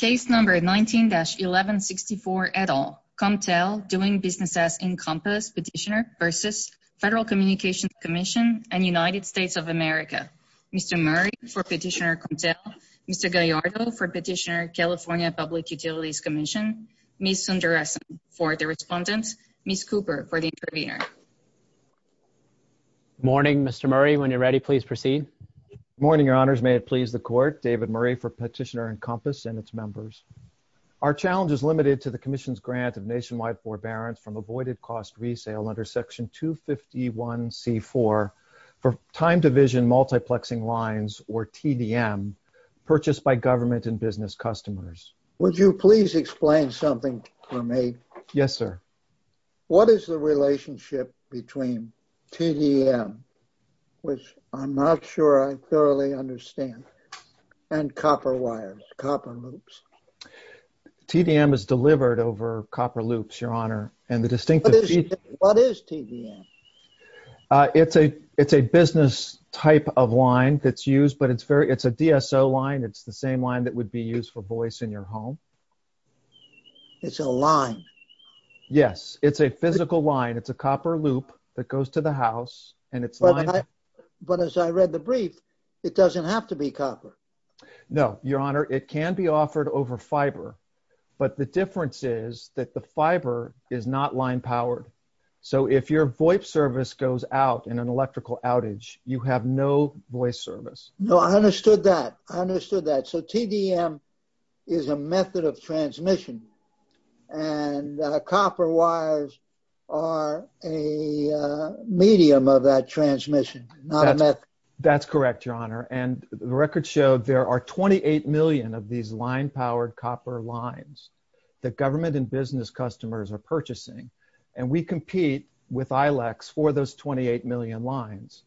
and United States of America. Mr. Murray for Petitioner COMPTEL, Mr. Gallardo for Petitioner California Public Utilities Commission, Ms. Sundaresan for the Respondent, Ms. Cooper for Petitioner California Public Utilities Commission, and Mr. Gallardo for Petitioner California Public Utilities Commission. Our challenge is limited to the Commission's grant of nationwide forbearance from avoided cost resale under Section 251C4 for time-division multiplexing lines, or TDM, purchased by government and business customers. Would you please explain something for me? Yes, sir. What is the relationship between TDM, which I'm not sure I thoroughly understand, and copper wires, copper loops? TDM is delivered over copper loops, Your Honor. And the distinct... What is TDM? It's a business type of line that's used, but it's a DSO line. It's the same line that goes to your home. It's a line. Yes. It's a physical line. It's a copper loop that goes to the house, and it's lined up... But as I read the brief, it doesn't have to be copper. No, Your Honor. It can be offered over fiber, but the difference is that the fiber is not line-powered. So if your voice service goes out in an electrical outage, you have no voice service. No, I understood that. I understood that. So TDM is a method of transmission, and copper wires are a medium of that transmission, not a method. That's correct, Your Honor. And the record showed there are 28 million of these line-powered copper lines that government and business customers are purchasing. And we compete with ILEX for those 28 million lines.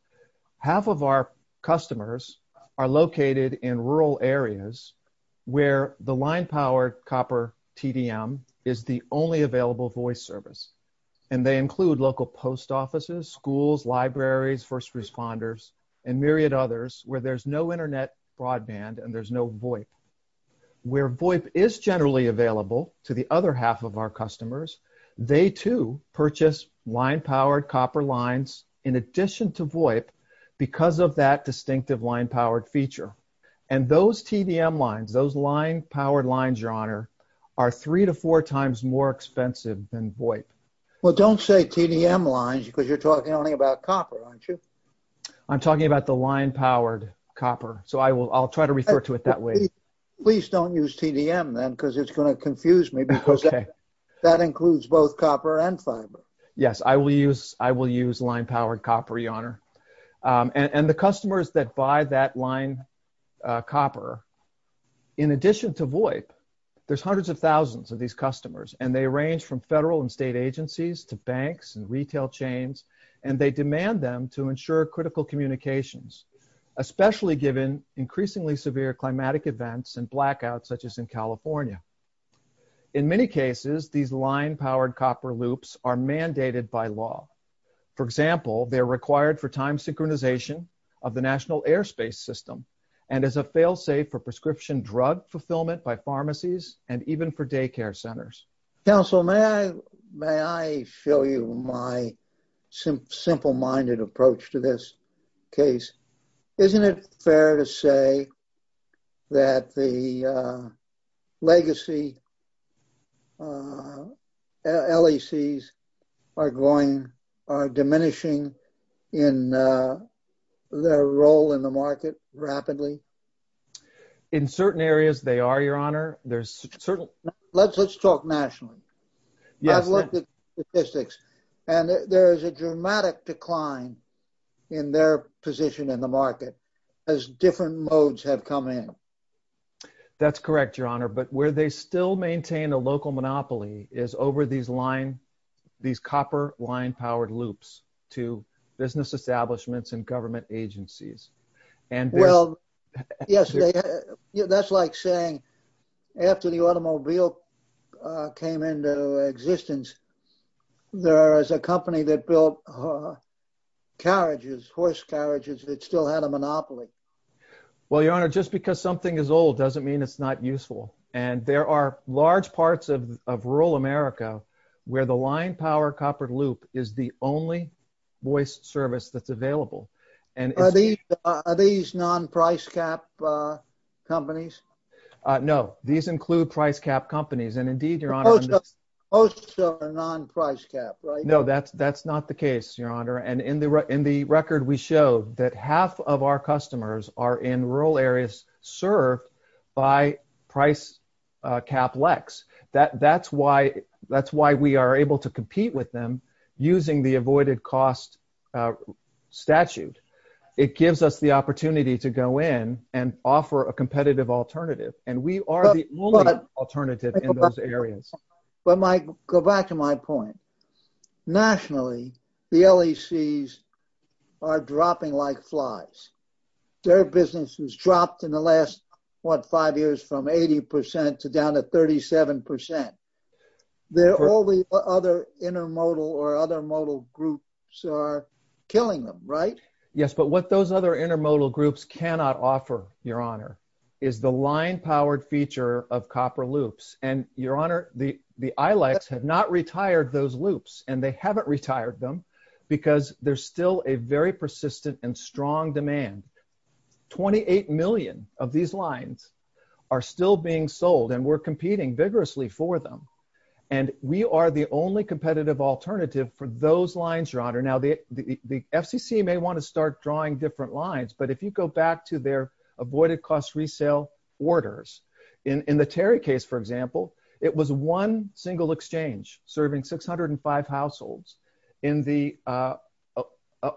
Half of our customers are located in rural areas where the line-powered copper TDM is the only available voice service. And they include local post offices, schools, libraries, first responders, and myriad others where there's no internet broadband and there's no VoIP. Where VoIP is generally available to the other half of our customers, they too purchase line-powered copper lines in addition to VoIP because of that distinctive line-powered feature. And those TDM lines, those line-powered lines, Your Honor, are three to four times more expensive than VoIP. Well, don't say TDM lines because you're talking only about copper, aren't you? I'm talking about the line-powered copper, so I'll try to refer to it that way. Please don't use TDM then because it's going to confuse me because that includes both copper and fiber. Yes. I will use line-powered copper, Your Honor. And the customers that buy that line copper, in addition to VoIP, there's hundreds of thousands of these customers. And they range from federal and state agencies to banks and retail chains. And they demand them to ensure critical communications, especially given increasingly severe climatic events and blackouts such as in California. In many cases, these line-powered copper loops are mandated by law. For example, they're required for time synchronization of the National Airspace System and as a fail-safe for prescription drug fulfillment by pharmacies and even for daycare centers. Counsel, may I show you my simple-minded approach to this case? Isn't it fair to say that the legacy LECs are going, are diminishing in their role in the market rapidly? In certain areas, they are, Your Honor. There's certain... Let's talk nationally. Yes. I've looked at statistics and there is a dramatic decline in their position in the market as different modes have come in. That's correct, Your Honor. But where they still maintain a local monopoly is over these line, these copper line-powered loops to business establishments and government agencies. Well, yes. That's like saying after the automobile came into existence, there is a company that built carriages, horse carriages that still had a monopoly. Well, Your Honor, just because something is old doesn't mean it's not useful. And there are large parts of rural America where the line-powered copper loop is the only voice service that's available. Are these non-price cap companies? No. These include price cap companies. And indeed, Your Honor... Most of them are non-price cap, right? No. That's not the case, Your Honor. And in the record, we show that half of our customers are in rural areas served by price cap LECs. That's why we are able to compete with them using the avoided cost statute. It gives us the opportunity to go in and offer a competitive alternative. And we are the only alternative in those areas. But go back to my point. Nationally, the LECs are dropping like flies. Their business has dropped in the last, what, five years from 80% to down to 37%. They're all the other intermodal or other modal groups are killing them, right? Yes. But what those other intermodal groups cannot offer, Your Honor, is the line-powered feature of copper loops. And Your Honor, the ILACs have not retired those loops, and they haven't retired them because there's still a very persistent and strong demand. 28 million of these lines are still being sold, and we're competing vigorously for them. And we are the only competitive alternative for those lines, Your Honor. Now, the FCC may want to start drawing different lines. But if you go back to their avoided cost resale orders, in the Terry case, for example, it was one single exchange serving 605 households. In the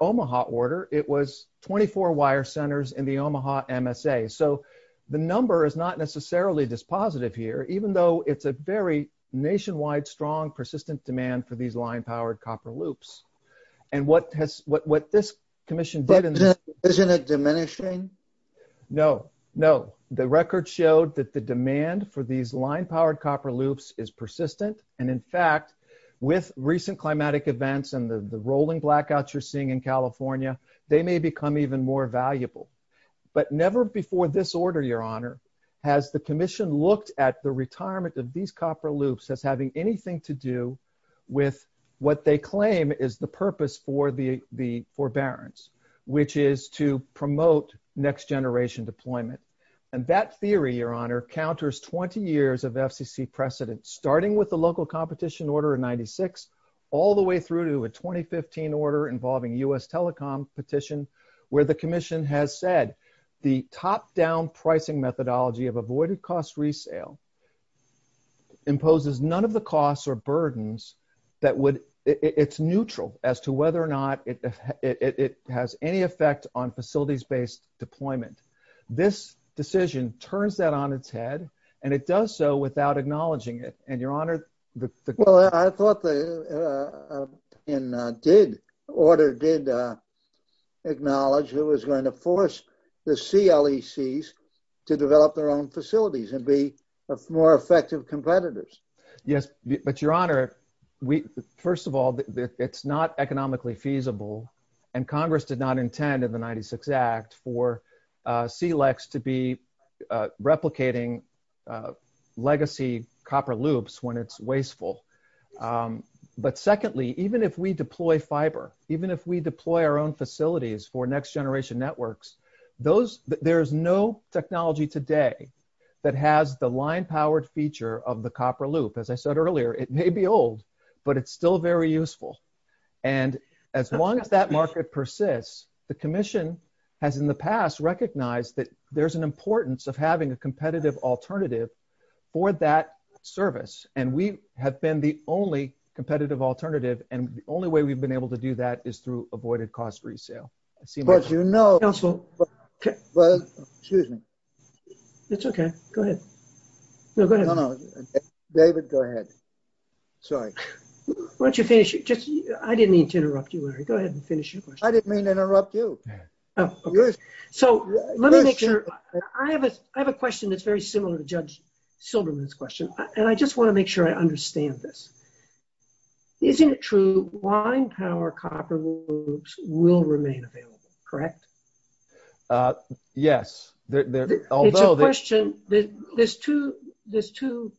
Omaha order, it was 24 wire centers in the Omaha MSA. So the number is not necessarily this positive here, even though it's a very nationwide, strong, persistent demand for these line-powered copper loops. And what this commission did- But isn't it diminishing? No, no. The record showed that the demand for these line-powered copper loops is persistent. And in fact, with recent climatic events and the rolling blackouts you're seeing in California, they may become even more valuable. But never before this order, Your Honor, has the commission looked at the retirement of these copper loops as having anything to do with what they claim is the purpose for the forbearance, which is to promote next-generation deployment. And that theory, Your Honor, counters 20 years of FCC precedent, starting with the local competition order in 96, all the way through to a 2015 order involving U.S. telecom petition, where the commission has said the top-down pricing methodology of avoided cost resale imposes none of the costs or burdens that would- It's neutral as to whether or not it has any effect on facilities-based deployment. This decision turns that on its head, and it does so without acknowledging it. And Your Honor, the- Well, I thought the order did acknowledge it was going to force the CLECs to develop their own facilities and be more effective competitors. Yes. But Your Honor, first of all, it's not economically feasible, and Congress did not intend in the 96 Act for CLECs to be replicating legacy copper loops when it's wasteful. But secondly, even if we deploy fiber, even if we deploy our own facilities for next-generation networks, those- there's no technology today that has the line-powered feature of the copper loop. As I said earlier, it may be old, but it's still very useful. And as long as that market persists, the commission has in the past recognized that there's an importance of having a competitive alternative for that service. And we have been the only competitive alternative, and the only way we've been able to do that is through avoided cost resale. I see my- But you know- Counsel. Excuse me. It's okay. Go ahead. No, go ahead. No, no. David, go ahead. Sorry. Why don't you finish? I didn't mean to interrupt you, Larry. Go ahead and finish your question. I didn't mean to interrupt you. So let me make sure- I have a question that's very similar to Judge Silberman's question, and I just want to make sure I understand this. Isn't it true line-powered copper loops will remain available, correct? Yes. It's a question- There's two-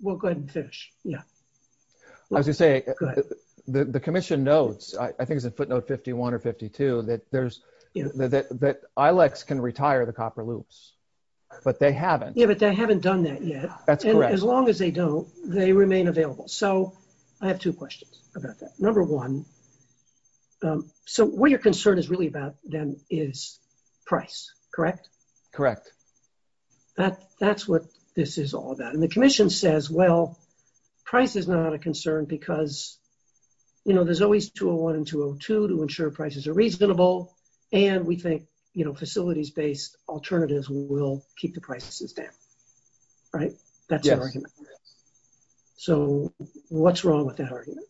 we'll go ahead and finish. Yeah. As you say, the commission knows, I think it's in footnote 51 or 52, that there's- that ILEX can retire the copper loops, but they haven't. Yeah, but they haven't done that yet. That's correct. As long as they don't, they remain available. So I have two questions about that. Number one, so what you're concerned is really about then is price, correct? Correct. That's what this is all about. The commission says, well, price is not a concern because, you know, there's always 201 and 202 to ensure prices are reasonable, and we think, you know, facilities-based alternatives will keep the prices down, right? That's the argument. So what's wrong with that argument?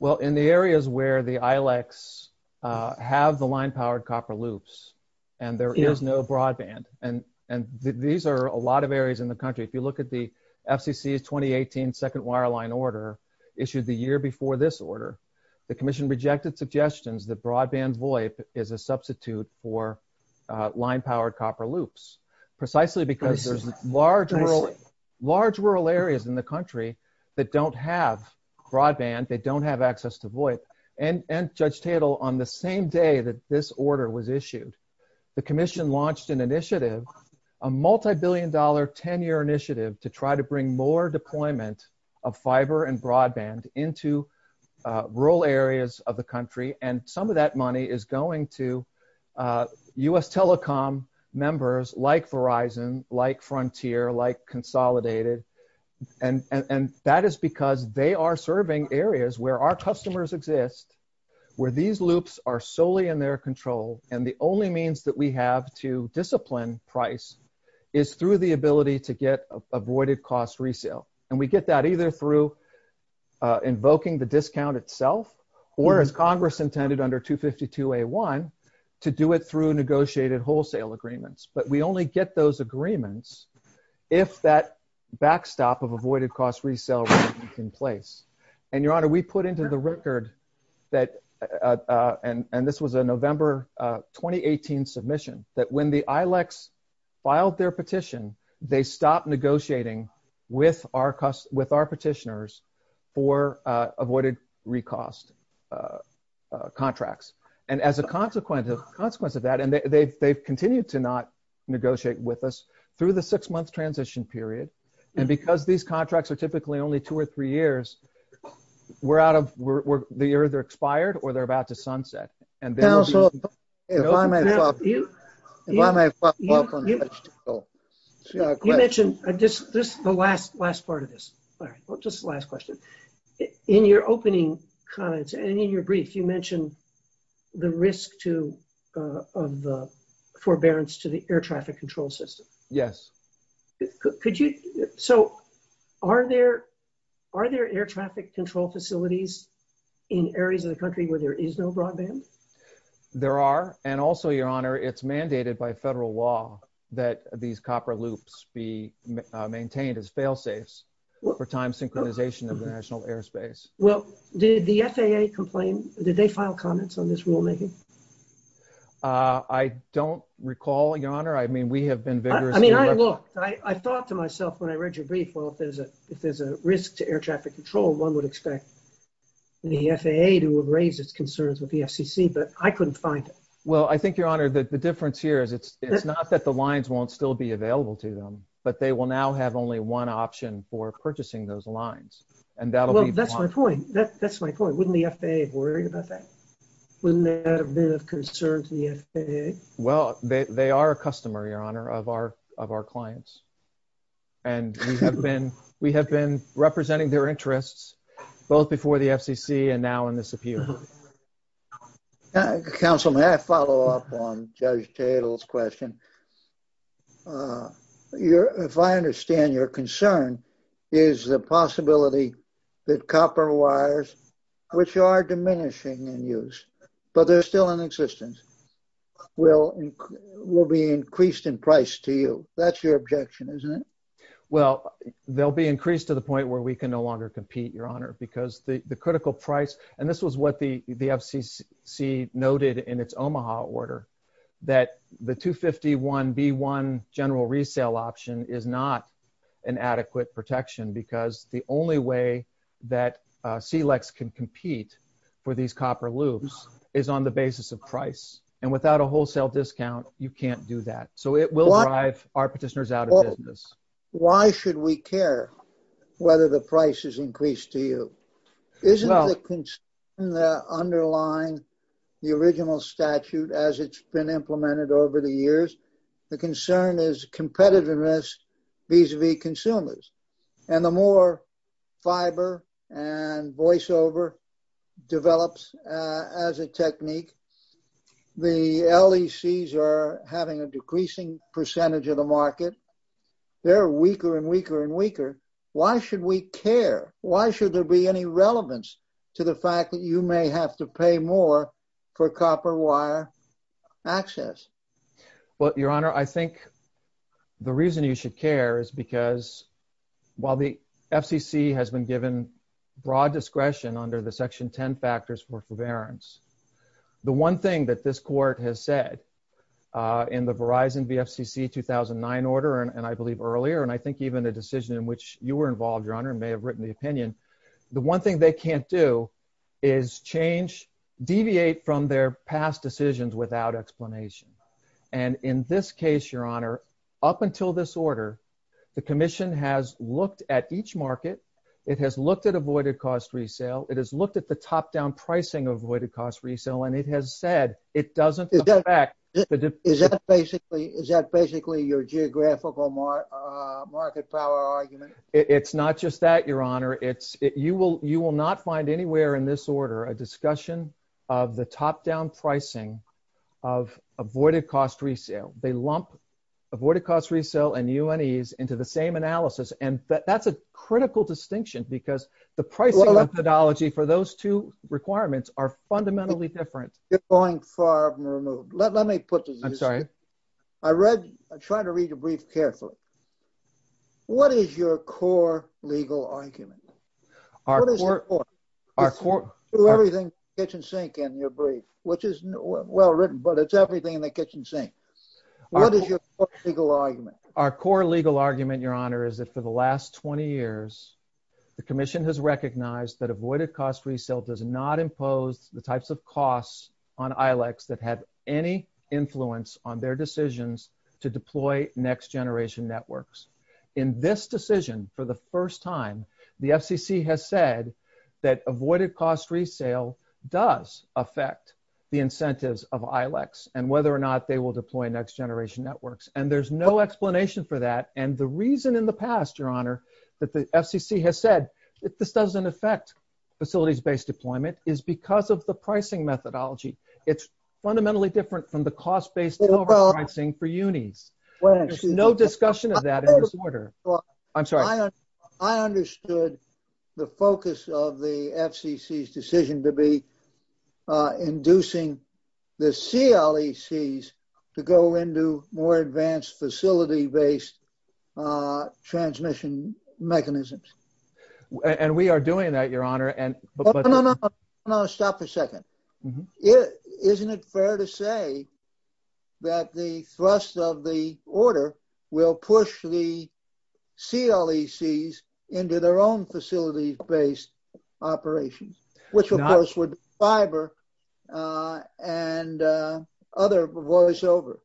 Well, in the areas where the ILEX have the line-powered copper loops and there is no FCC 2018 second wireline order issued the year before this order, the commission rejected suggestions that broadband VOIP is a substitute for line-powered copper loops, precisely because there's large rural areas in the country that don't have broadband, they don't have access to VOIP. And Judge Tatel, on the same day that this order was issued, the commission launched an initiative, a multibillion-dollar 10-year initiative to try to bring more deployment of fiber and broadband into rural areas of the country, and some of that money is going to U.S. telecom members like Verizon, like Frontier, like Consolidated, and that is because they are serving areas where our customers exist, where these loops are solely in their control, and the only means that we have to discipline price is through the ability to get avoided cost resale. And we get that either through invoking the discount itself or, as Congress intended under 252A1, to do it through negotiated wholesale agreements. But we only get those agreements if that backstop of avoided cost resale is in place. And, Your Honor, we put into the record that, and this was a November 2018 submission, that when the ILECs filed their petition, they stopped negotiating with our petitioners for avoided recost contracts. And as a consequence of that, and they've continued to not negotiate with us through the six-month transition period, and because these contracts are typically only two or three years, we're out of – they're either expired or they're about to sunset. And then – Counsel, if I may – Now, you mentioned – this is the last part of this. All right. Well, just the last question. In your opening comments and in your brief, you mentioned the risk to – of the forbearance to the air traffic control system. Yes. Could you – so are there air traffic control facilities in areas of the country where there is no broadband? There are. And also, Your Honor, it's mandated by federal law that these copper loops be maintained as fail-safes for time synchronization of the national airspace. Well, did the FAA complain? Did they file comments on this rulemaking? I don't recall, Your Honor. I mean, we have been vigorously – I mean, I – look, I thought to myself when I read your brief, well, if there's a risk to air traffic control, one would expect the FAA to have raised its concerns with the FCC, but I couldn't find it. Well, I think, Your Honor, the difference here is it's not that the lines won't still be available to them, but they will now have only one option for purchasing those lines, and that'll be – Well, that's my point. That's my point. Wouldn't the FAA have worried about that? Wouldn't that have been of concern to the FAA? Well, they are a customer, Your Honor, of our clients, and we have been representing their interests both before the FCC and now in this appeal. Counsel, may I follow up on Judge Tatel's question? If I understand your concern, is the possibility that copper wires, which are diminishing in use, but they're still in existence, will be increased in price to you? That's your objection, isn't it? Well, they'll be increased to the point where we can no longer compete, Your Honor, because the critical price – and this was what the FCC noted in its Omaha order, that the 251B1 general resale option is not an adequate protection because the only way that SELEX can compete for these copper loops is on the basis of price. And without a wholesale discount, you can't do that. So, it will drive our petitioners out of business. Why should we care whether the price is increased to you? Isn't the concern that underlines the original statute as it's been implemented over the years? The concern is competitiveness vis-a-vis consumers. And the more fiber and voiceover develops as a technique, the LECs are having a decreasing percentage of the market. They're weaker and weaker and weaker. Why should we care? Why should there be any relevance to the fact that you may have to pay more for copper wire access? Well, Your Honor, I think the reason you should care is because, while the FCC has been given broad discretion under the Section 10 factors for forbearance, the one thing that this court has said in the Verizon v. FCC 2009 order, and I believe earlier, and I think even the decision in which you were involved, Your Honor, and may have written the opinion, the one thing they can't do is change – deviate from their past decisions without explanation. And in this case, Your Honor, up until this order, the Commission has looked at each market. It has looked at avoided cost resale. It has looked at the top-down pricing of avoided cost resale. And it has said it doesn't come back. Is that basically your geographical market power argument? It's not just that, Your Honor. You will not find anywhere in this order a discussion of the top-down pricing of avoided cost resale. They lump avoided cost resale and UNEs into the same analysis. And that's a critical distinction because the pricing methodology for those two requirements are fundamentally different. You're going far and removed. Let me put this. I'm sorry. I read – I'm trying to read your brief carefully. What is your core legal argument? What is your core – Our core – Everything kitchen sink in your brief, which is well-written, but it's everything in the kitchen sink. What is your core legal argument? Our core legal argument, Your Honor, is that for the last 20 years, the Commission has recognized that avoided cost resale does not impose the types of costs on ILECs that have any influence on their decisions to deploy next-generation networks. In this decision, for the first time, the FCC has said that avoided cost resale does affect the incentives of ILECs and whether or not they will deploy next-generation networks. And there's no explanation for that. And the reason in the past, Your Honor, that the FCC has said, if this doesn't affect facilities-based deployment, is because of the pricing methodology. It's fundamentally different from the cost-based deployment pricing for UNIs. No discussion of that in this order. I'm sorry. I understood the focus of the FCC's decision to be inducing the CLECs to go into more advanced facility-based transmission mechanisms. And we are doing that, Your Honor. No, no, no, stop for a second. It isn't fair to say that the thrust of the order will push the CLECs into their own facility-based operations, which of course would fiber and other voiceover.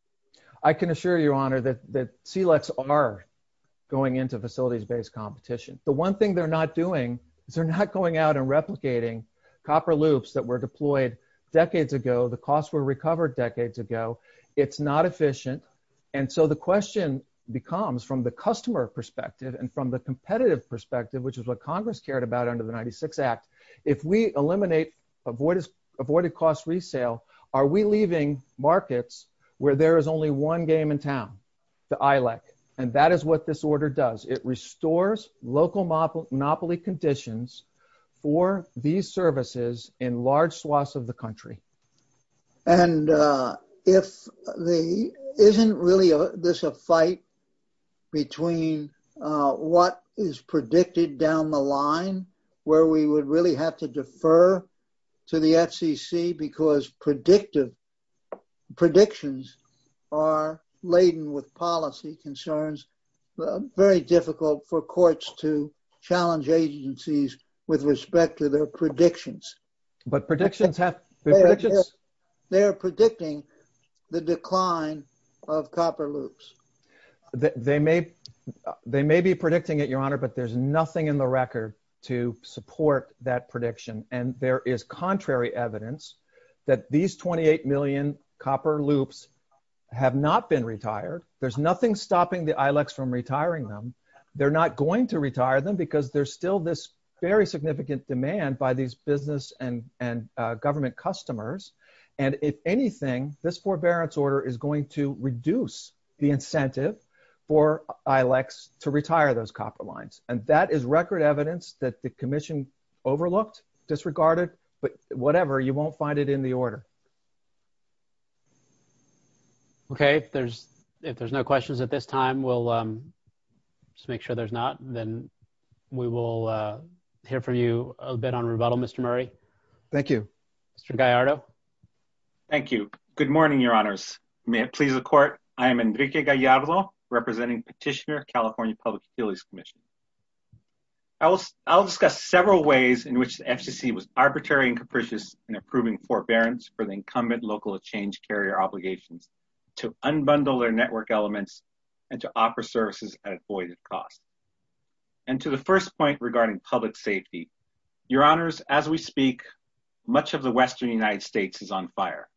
I can assure you, Your Honor, that CLECs are going into facilities-based competition. The one thing they're not doing, they're not going out and replicating copper loops that were deployed decades ago. The costs were recovered decades ago. It's not efficient. And so the question becomes, from the customer perspective and from the competitive perspective, which is what Congress cared about under the 96 Act, if we eliminate avoided-cost resale, are we leaving markets where there is only one game in town, the ILEC? And that is what this order does. It restores local monopoly conditions for these services in large swaths of the country. And isn't really this a fight between what is predicted down the line, where we would really have to defer to the FCC because predictions are laden with policy concerns very difficult for courts to challenge agencies with respect to their predictions. But predictions have- They're predicting the decline of copper loops. They may be predicting it, Your Honor, but there's nothing in the record to support that prediction. And there is contrary evidence that these 28 million copper loops have not been retired. There's nothing stopping the ILECs from retiring them. They're not going to retire them because there's still this very significant demand by these business and government customers. And if anything, this forbearance order is going to reduce the incentive for ILECs to retire those copper lines. And that is record evidence that the commission overlooked, disregarded, but whatever, you won't find it in the order. Okay. If there's no questions at this time, we'll just make sure there's not. And then we will hear from you a bit on rebuttal, Mr. Murray. Thank you. Mr. Gallardo. Thank you. Good morning, Your Honors. May it please the court, I am Enrique Gallardo, representing Petitioner California Public Authorities Commission. I'll discuss several ways in which the FCC was arbitrary and capricious in approving forbearance. For the incumbent local change carrier obligations to unbundle their network elements and to offer services at avoided costs. And to the first point regarding public safety, Your Honors, as we speak, much of the Western United States is on fire.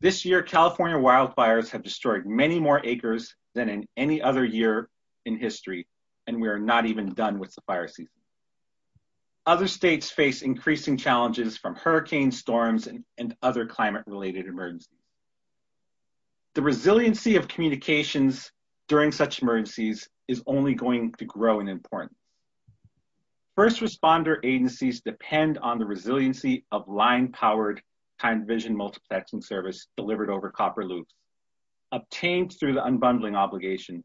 This year, California wildfires have destroyed many more acres than in any other year in history. And we're not even done with the fire season. Other states face increasing challenges from hurricanes, storms, and other climate-related emergencies. The resiliency of communications during such emergencies is only going to grow in importance. First responder agencies depend on the resiliency of line-powered time-vision multiplexing service delivered over copper loops. Obtained through the unbundling obligation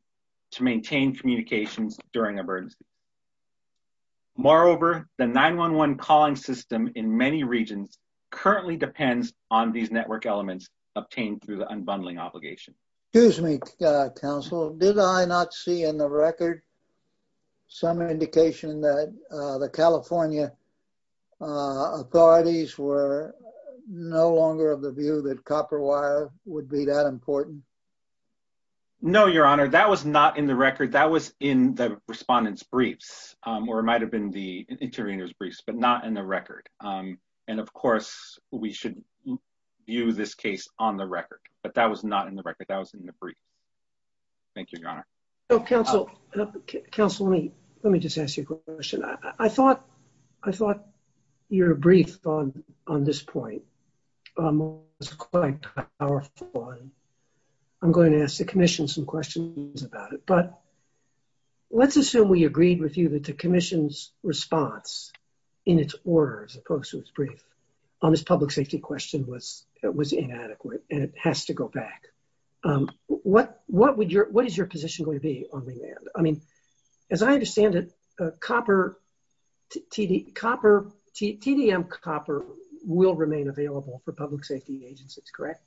to maintain communications during emergencies. Moreover, the 911 call-in system in many regions currently depends on these network elements obtained through the unbundling obligation. Excuse me, counsel. Did I not see in the record some indication that the California authorities were no longer of the view that copper wire would be that important? No, Your Honor. That was not in the record. That was in the respondent's briefs, or it might have been the intervener's briefs, but not in the record. And of course, we should view this case on the record. But that was not in the record. That was in the brief. Thank you, Your Honor. So, counsel, let me just ask you a question. I thought your brief on this point was quite powerful. I'm going to ask the commission some questions about it. But let's assume we agreed with you that the commission's response in its order, as opposed to its brief, on this public safety question was inadequate and it has to go back. What is your position going to be on the land? I mean, as I understand it, TDM copper will remain available for public safety agencies, correct?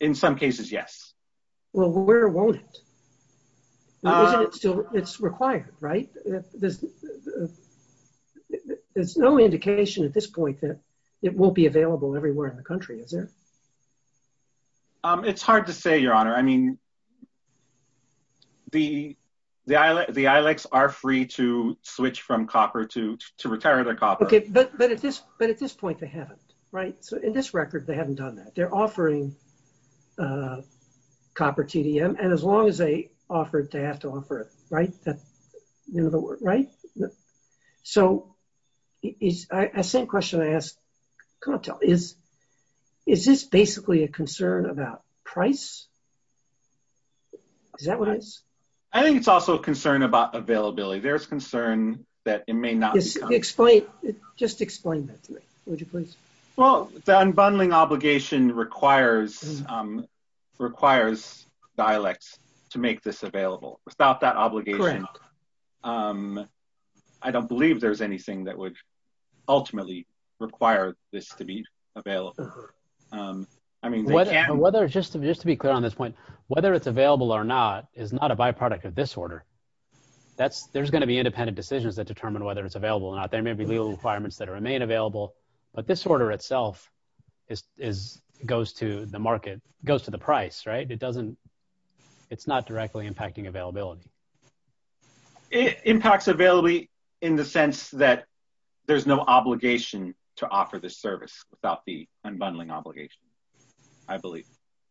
In some cases, yes. Well, where won't it? It's required, right? There's no indication at this point that it won't be available everywhere in the country, is there? It's hard to say, Your Honor. I mean, the ILACs are free to switch from copper, to retire to copper. Okay, but at this point, they haven't, right? So, in this record, they haven't done that. They're offering copper TDM. And as long as they offer it, they have to offer it, right? So, the same question I asked, is this basically a concern about price? Is that what it is? I think it's also a concern about availability. There's concern that it may not be. Explain, just explain that to me, would you please? Well, the unbundling obligation requires dialects to make this available. Without that obligation, I don't believe there's anything that would ultimately require this to be available. Whether, just to be clear on this point, whether it's available or not, is not a byproduct of this order. There's going to be independent decisions that determine whether it's available or not. There may be legal requirements that remain available. But this order itself goes to the market, goes to the price, right? It doesn't, it's not directly impacting availability. It impacts availability in the sense that there's no obligation to offer this service without the unbundling obligation, I believe.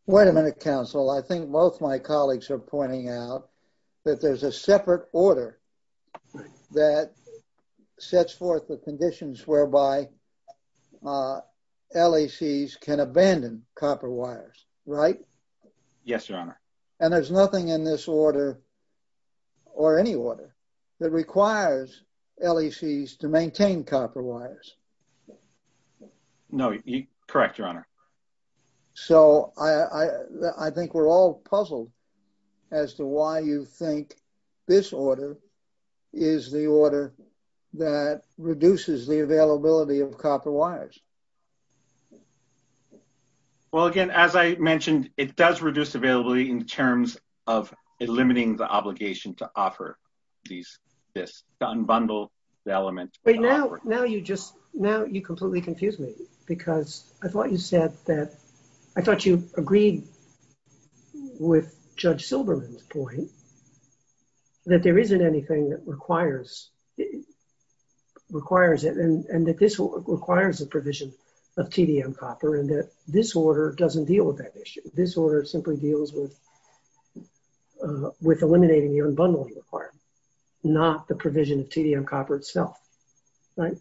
Wait a minute, counsel. I think both my colleagues are pointing out that there's a separate order that sets forth the conditions whereby LECs can abandon copper wires, right? Yes, your honor. And there's nothing in this order, or any order, that requires LECs to maintain copper wires? No, correct, your honor. So, I think we're all puzzled as to why you think this order is the order that reduces the availability of copper wires. Well, again, as I mentioned, it does reduce availability in terms of eliminating the obligation to offer these disks, to unbundle the elements. Wait, now you just, now you completely confused me. Because I thought you said that, I thought you agreed with Judge Silberman's point that there isn't anything that requires it, and that this requires the provision of TDM copper, and that this order doesn't deal with that issue. This order simply deals with eliminating the unbundling requirement, not the provision of TDM copper itself. Right?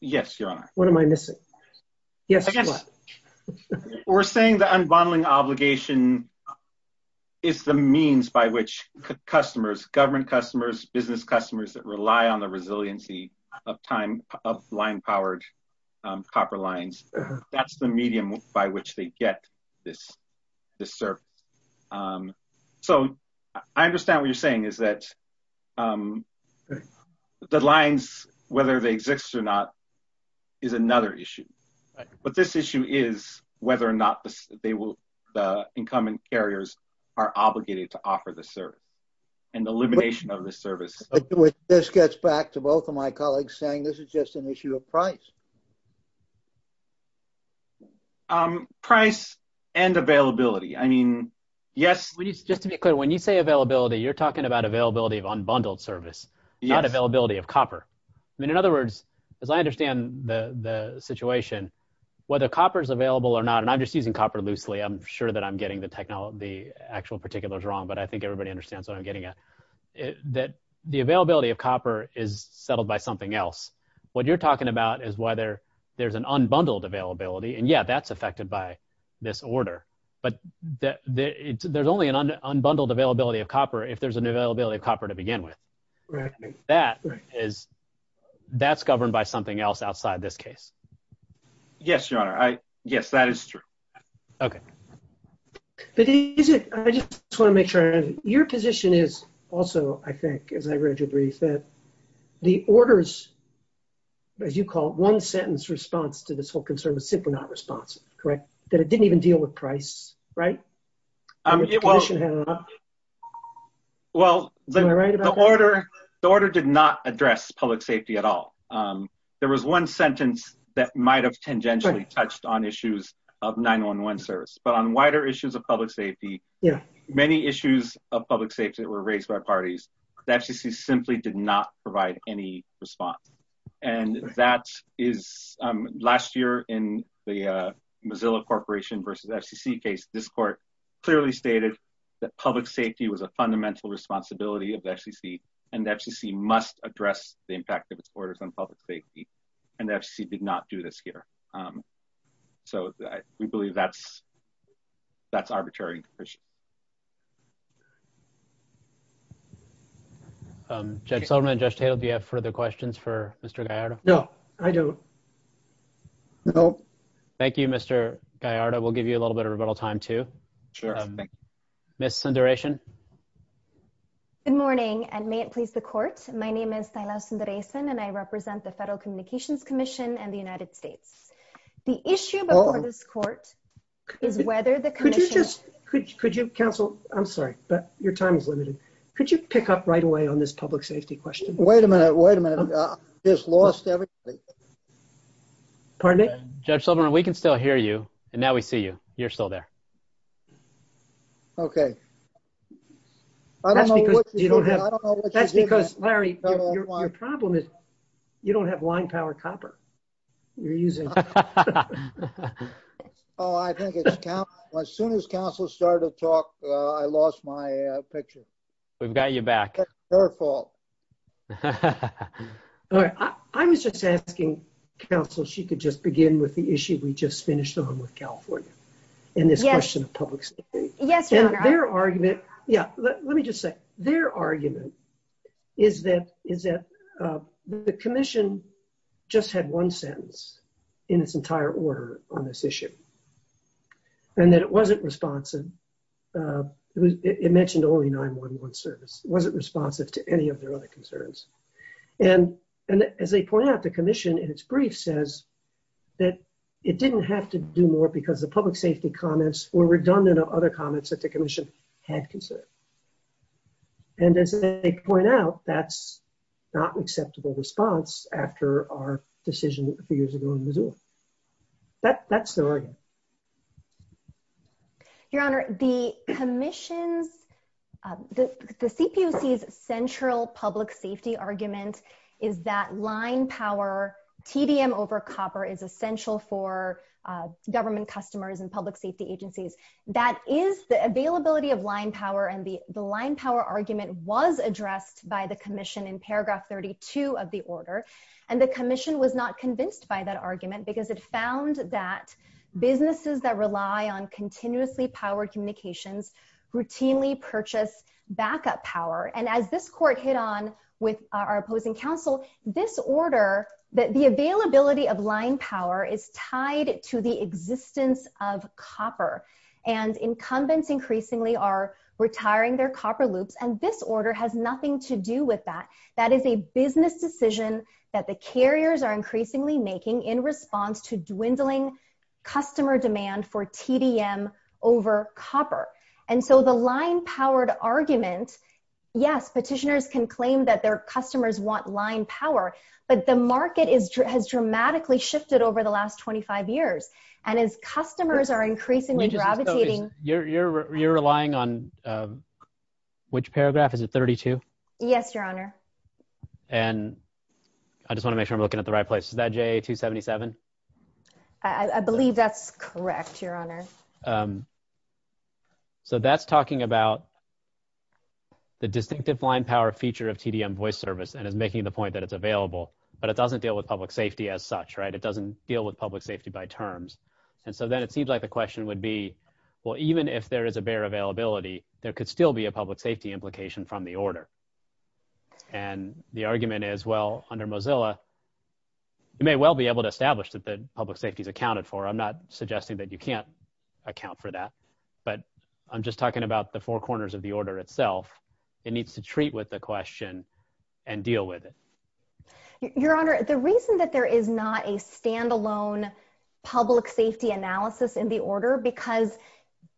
Yes, your honor. What am I missing? Yes, your honor. We're saying the unbundling obligation is the means by which customers, government customers, business customers that rely on the resiliency of time, of line-powered copper lines, that's the medium by which they get this CERP. So, I understand what you're saying is that the lines, whether they exist or not, is another issue. But this issue is whether or not the incoming carriers are obligated to offer the service, and the elimination of the service. This gets back to both of my colleagues saying this is just an issue of price. Price and availability. I mean, yes, just to be clear, when you say availability, you're talking about availability of unbundled service, not availability of copper. I mean, in other words, as I understand the situation, whether copper is available or not, and I'm just using copper loosely, I'm sure that I'm getting the actual particulars wrong, but I think everybody understands what I'm getting at, that the availability of copper is settled by something else. What you're talking about is whether there's an unbundled availability, and yeah, that's affected by this order. But there's only an unbundled availability of copper if there's an availability of copper to begin with. That is, that's governed by something else outside this case. Yes, your honor, yes, that is true. Okay. I just want to make sure, your position is also, I think, as I read your brief, that the orders, as you call it, one sentence response to this whole concern was simply not responsive, correct? That it didn't even deal with price, right? Well, the order did not address public safety at all. There was one sentence that might have tangentially touched on issues of 911 service, but on wider issues of public safety, many issues of public safety that were raised by parties, that just simply did not provide any response. And that is, last year in the Mozilla Corporation versus FCC case, this court clearly stated that public safety was a fundamental responsibility of FCC, and FCC must address the impact of its orders on public safety, and FCC did not do this here. So we believe that's arbitrary. Judge Silverman, Judge Taylor, do you have further questions for Mr. Gallardo? No, I don't. No. Thank you, Mr. Gallardo. We'll give you a little bit of rebuttal time, too. Sure. Ms. Sundaresan. Good morning, and may it please the court. My name is Silas Sundaresan, and I represent the Federal Communications Commission and the United States. The issue before this court is whether the commission could you counsel, I'm sorry, but your time is limited. Could you pick up right away on this public safety question? Wait a minute. Wait a minute. I just lost everything. Pardon me? Judge Silverman, we can still hear you, and now we see you. You're still there. Okay. I don't know what you don't have. That's because, Larry, your problem is you don't have line power copper you're using. Oh, I think as soon as counsel started to talk, I lost my picture. We've got you back. It's her fault. All right. I was just asking counsel if she could just begin with the issue we just finished on with California and this question of public safety. Yes, Your Honor. Their argument, yeah, let me just say, their argument is that the commission just had one sentence in its entire order on this issue and that it wasn't responsive. It mentioned only 911 service. It wasn't responsive to any of their other concerns. And as they point out, the commission in its brief says that it didn't have to do more because the public safety comments were redundant of other comments that the commission had considered. And as they point out, that's not an acceptable response after our decision a few years ago in Missoula. That's their argument. Your Honor, the commission, the CPC's central public safety argument is that line power, TDM over copper is essential for government customers and public safety agencies. That is the availability of line power. And the line power argument was addressed by the commission in paragraph 32 of the order. And the commission was not convinced by that argument because it found that businesses that rely on continuously powered communications routinely purchase backup power. And as this court hit on with our opposing counsel, this order that the availability of line power is tied to the existence of copper. And incumbents increasingly are retiring their copper loop. And this order has nothing to do with that. That is a business decision that the carriers are increasingly making in response to dwindling customer demand for TDM over copper. And so the line powered argument, yes, petitioners can claim that their customers want line power. But the market has dramatically shifted over the last 25 years. And as customers are increasingly gravitating. You're relying on which paragraph? Is it 32? Yes, Your Honor. And I just want to make sure I'm looking at the right place. Is that J277? I believe that's correct, Your Honor. So that's talking about the distinctive line power feature of TDM voice service. And it's making the point that it's available. But it doesn't deal with public safety as such, right? It doesn't deal with public safety by terms. And so then it seems like the question would be, well, even if there is a bare availability, there could still be a public safety implication from the order. And the argument is, well, under Mozilla, you may well be able to establish that the public safety is accounted for. I'm not suggesting that you can't account for that. But I'm just talking about the four corners of the order itself. It needs to treat with the question and deal with it. Your Honor, the reason that there is not a standalone public safety analysis in the order, because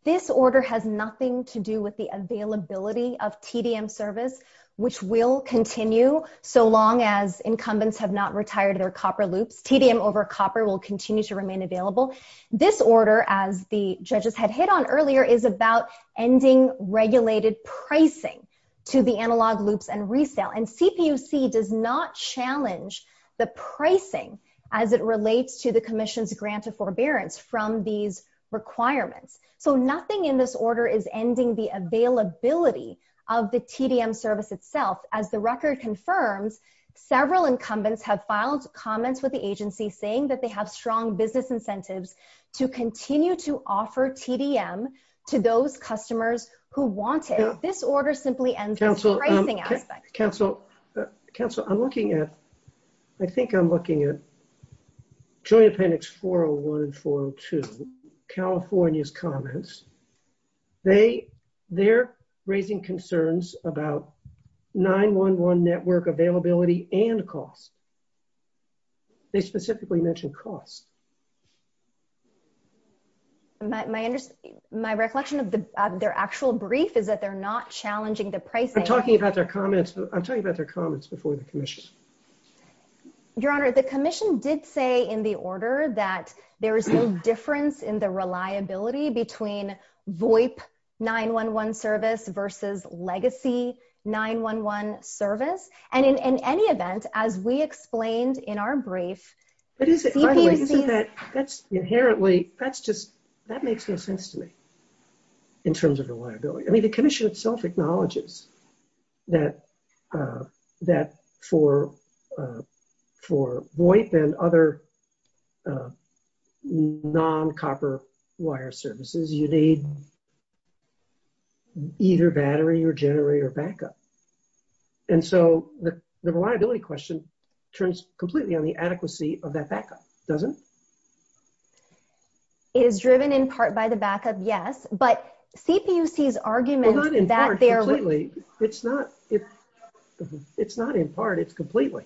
this order has nothing to do with the availability of TDM service, which will continue so long as incumbents have not retired their copper loop. TDM over copper will continue to remain available. This order, as the judges had hit on earlier, is about ending regulated pricing to the analog loops and resale. And CPUC does not challenge the pricing as it relates to the commission's grant of forbearance from these requirements. So nothing in this order is ending the availability of the TDM service itself. As the record confirms, several incumbents have filed comments with the agency saying that they have strong business incentives to continue to offer TDM to those customers who want it. This order simply ends the pricing aspect. Counselor, I'm looking at, I think I'm looking at Julia Panik's 401, 402, California's comments. They're raising concerns about 911 network availability and cost. They specifically mentioned cost. My recollection of their actual brief is that they're not challenging the pricing. We're talking about their comments. I'm talking about their comments before the commission. Your Honor, the commission did say in the order that there is no difference in the reliability between VOIP 911 service versus legacy 911 service. And in any event, as we explained in our brief- But isn't that, that's inherently, that's just, that makes no sense to me in terms of reliability. I mean, the commission itself acknowledges that for VOIP and other non-copper wire services, you need either battery or generator backup. And so the reliability question turns completely on the adequacy of that backup, doesn't it? It is driven in part by the backup, yes. But CPUC's argument- Well, not in part, completely. It's not, it's not in part, it's completely.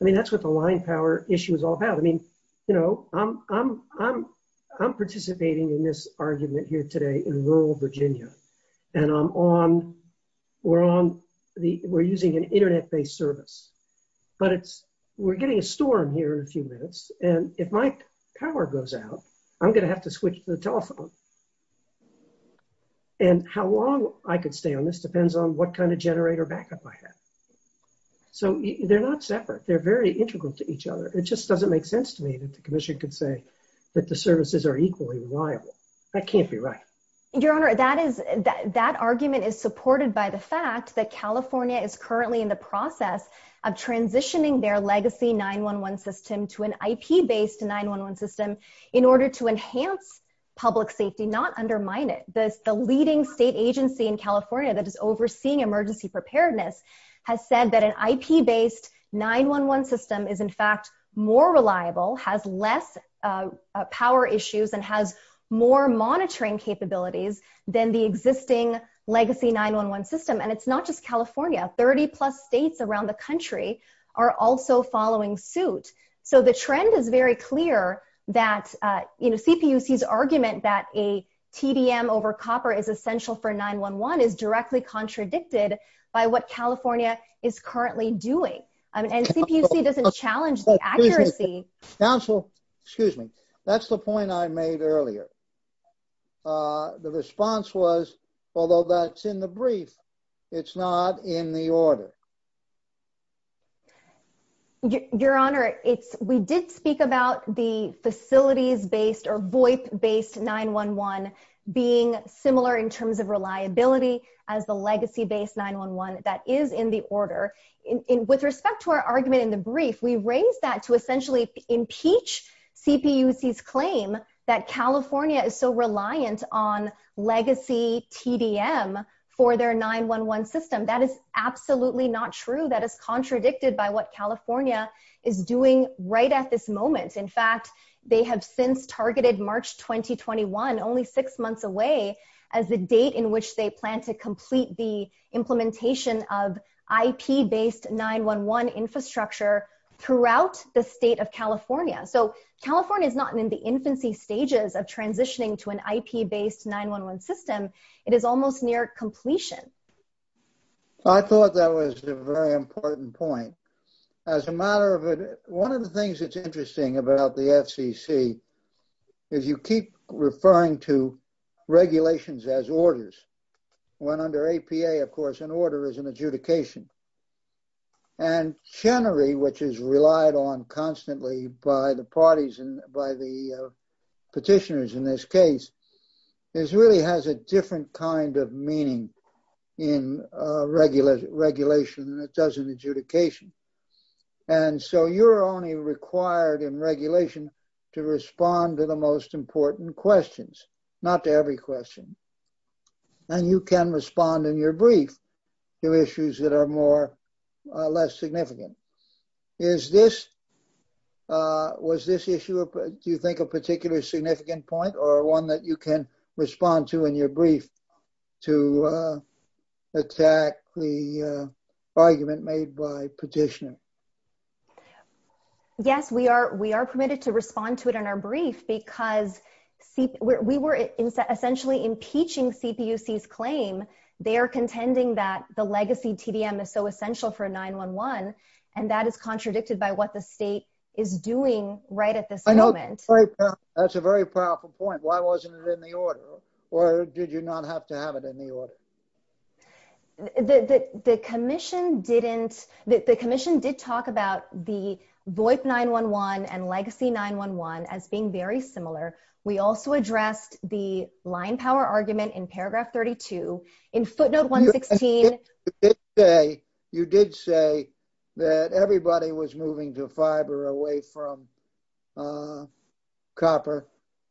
I mean, that's what the line power issue is all about. I mean, you know, I'm, I'm, I'm participating in this argument here today in rural Virginia. And I'm on, we're on the, we're using an internet-based service. But it's, we're getting a storm here in a few minutes. And if my power goes out, I'm going to have to switch to the telephone. And how long I could stay on this depends on what kind of generator backup I have. So they're not separate. They're very integral to each other. It just doesn't make sense to me that the commission could say that the services are equally reliable. That can't be right. Your Honor, that is, that argument is supported by the fact that California is currently in the process of transitioning their legacy 911 system to an IP-based 911 system in order to enhance public safety, not undermine it. The leading state agency in California that is overseeing emergency preparedness has said that an IP-based 911 system is in fact more reliable, has less power issues, and has more monitoring capabilities than the existing legacy 911 system. And it's not just California. 30 plus states around the country are also following suit. So the trend is very clear that, you know, CPUC's argument that a TDM over copper is essential for 911 is directly contradicted by what California is currently doing. And CPUC doesn't challenge the accuracy. Counsel, excuse me. That's the point I made earlier. The response was, although that's in the brief, it's not in the order. Your Honor, we did speak about the facilities-based or voice-based 911 being similar in terms of reliability as the legacy-based 911 that is in the order. With respect to our argument in the brief, we raised that to essentially impeach CPUC's claim that California is so reliant on legacy TDM for their 911 system. That is absolutely not true. That is contradicted by what California is doing right at this moment. In fact, they have since targeted March 2021, only six months away, as the date in which they plan to complete the implementation of IP-based 911 infrastructure throughout the state of California. So California is not in the infancy stages of transitioning to an IP-based 911 system. It is almost near completion. So I thought that was a very important point. As a matter of it, one of the things that's interesting about the FCC is you keep referring to regulations as orders. When under APA, of course, an order is an adjudication. Chenery, which is relied on constantly by the parties and by the petitioners in this case, really has a different kind of meaning in regulation than it does in adjudication. So you're only required in regulation to respond to the most important questions. Not to every question. And you can respond in your brief to issues that are more or less significant. Was this issue, do you think, a particularly significant point or one that you can respond to in your brief to attack the argument made by petitioners? Yes, we are permitted to respond to it in our brief because we were essentially impeaching CPUC's claim. They are contending that the legacy TDM is so essential for 911, and that is contradicted by what the state is doing right at this moment. That's a very powerful point. Why wasn't it in the order? Or did you not have to have it in the order? The commission didn't, the commission did talk about the VoIP 911 and legacy 911 as being very similar. We also addressed the line power argument in paragraph 32 in footnote 116. You did say that everybody was moving to fiber away from copper,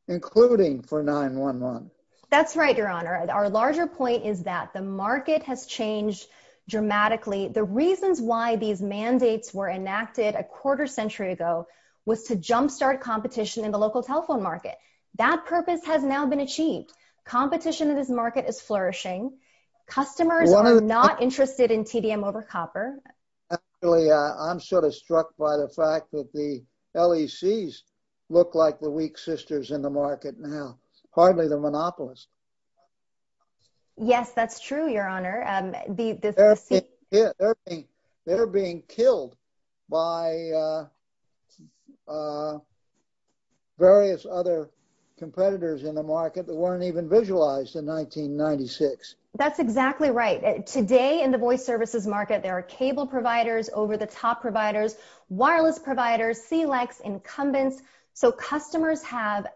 including for 911. That's right, your honor. Our larger point is that the market has changed dramatically. The reasons why these mandates were enacted a quarter century ago was to jumpstart competition in the local telephone market. That purpose has now been achieved. Competition in this market is flourishing. Customers are not interested in TDM over copper. I'm sort of struck by the fact that the LECs look like the weak sisters in the market now, partly the monopolists. Yes, that's true, your honor. They're being killed by various other competitors in the market that weren't even visualized in 1996. That's exactly right. Today in the voice services market, there are cable providers, over-the-top providers, wireless providers, CLECs, incumbents. Customers have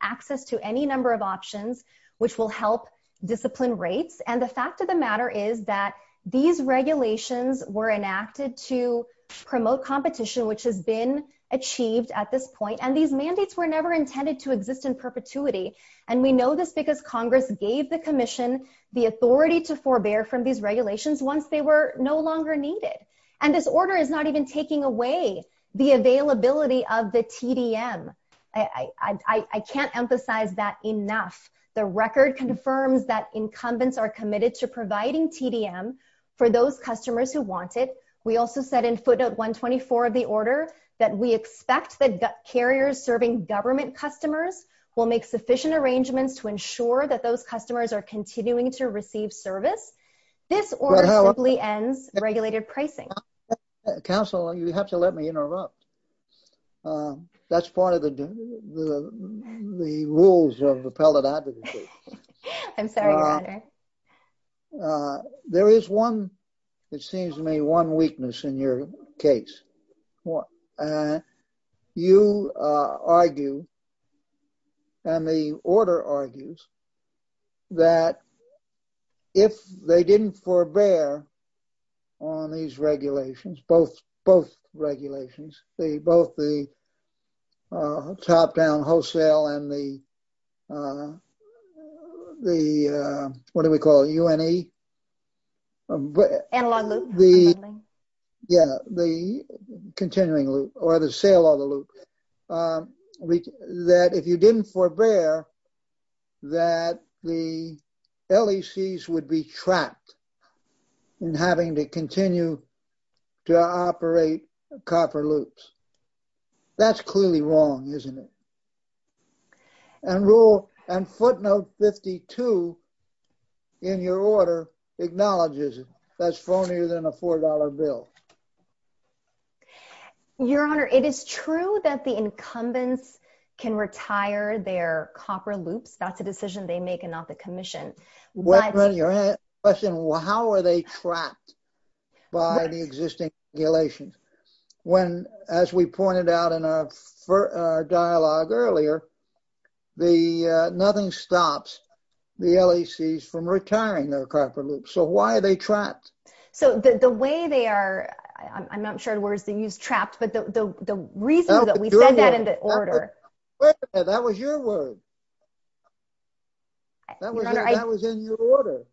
access to any number of options, which will help discipline rates. The fact of the matter is that these regulations were enacted to promote competition, which has been achieved at this point. These mandates were never intended to exist in perpetuity. We know this because Congress gave the commission the authority to forbear from these regulations once they were no longer needed. This order is not even taking away the availability of the TDM. I can't emphasize that enough. The record confirms that incumbents are committed to providing TDM for those customers who want it. We also said in footnote 124 of the order that we expect that carriers serving government customers will make sufficient arrangements to ensure that those customers are continuing to receive service. This order simply ends the regulated pricing. Counsel, you have to let me interrupt. That's part of the rules of appellate advocacy. I'm sorry, your honor. There is one, it seems to me, one weakness in your case. You argue, and the order argues, that if they didn't forbear on these regulations, both regulations, both the top-down wholesale and the, what do we call it, UNE? Analog loop. Yeah, the continuing loop or the sale of the loop. That if you didn't forbear, that the LECs would be trapped in having to continue to operate copper loops. That's clearly wrong, isn't it? And footnote 52 in your order acknowledges it. That's phonier than a $4 bill. Your honor, it is true that the incumbents can retire their copper loop. That's a decision they make and not the commission. How are they trapped by the existing regulations? When, as we pointed out in our dialogue earlier, nothing stops the LECs from retiring their copper loop. So why are they trapped? So the way they are, I'm not sure the word they use, trapped, but the reason that we said that in the order. That was your word. That was in your order.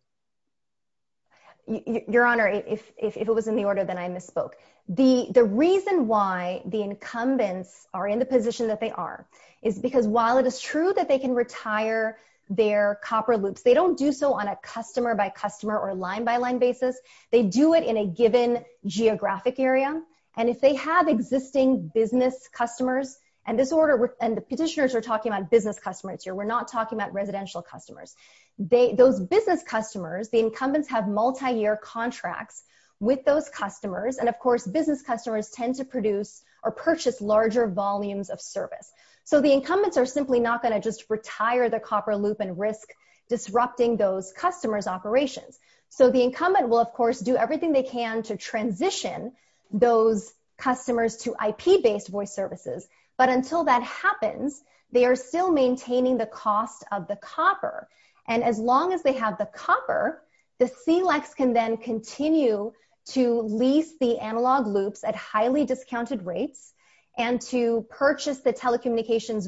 Your honor, if it was in the order, then I misspoke. The reason why the incumbents are in the position that they are is because while it is true that they can retire their copper loops, they don't do so on a customer by customer or line by line basis. They do it in a given geographic area. And if they have existing business customers, and the petitioners are talking about business customers here. We're not talking about residential customers. Those business customers, the incumbents have multi-year contracts with those customers. And of course, business customers tend to produce or purchase larger volumes of service. So the incumbents are simply not going to just retire the copper loop and risk disrupting those customers' operations. So the incumbent will, of course, do everything they can to transition those customers to IP-based voice services. But until that happens, they are still maintaining the cost of the copper. And as long as they have the copper, the CLECs can then continue to lease the analog loops at highly discounted rates and to purchase the telecommunications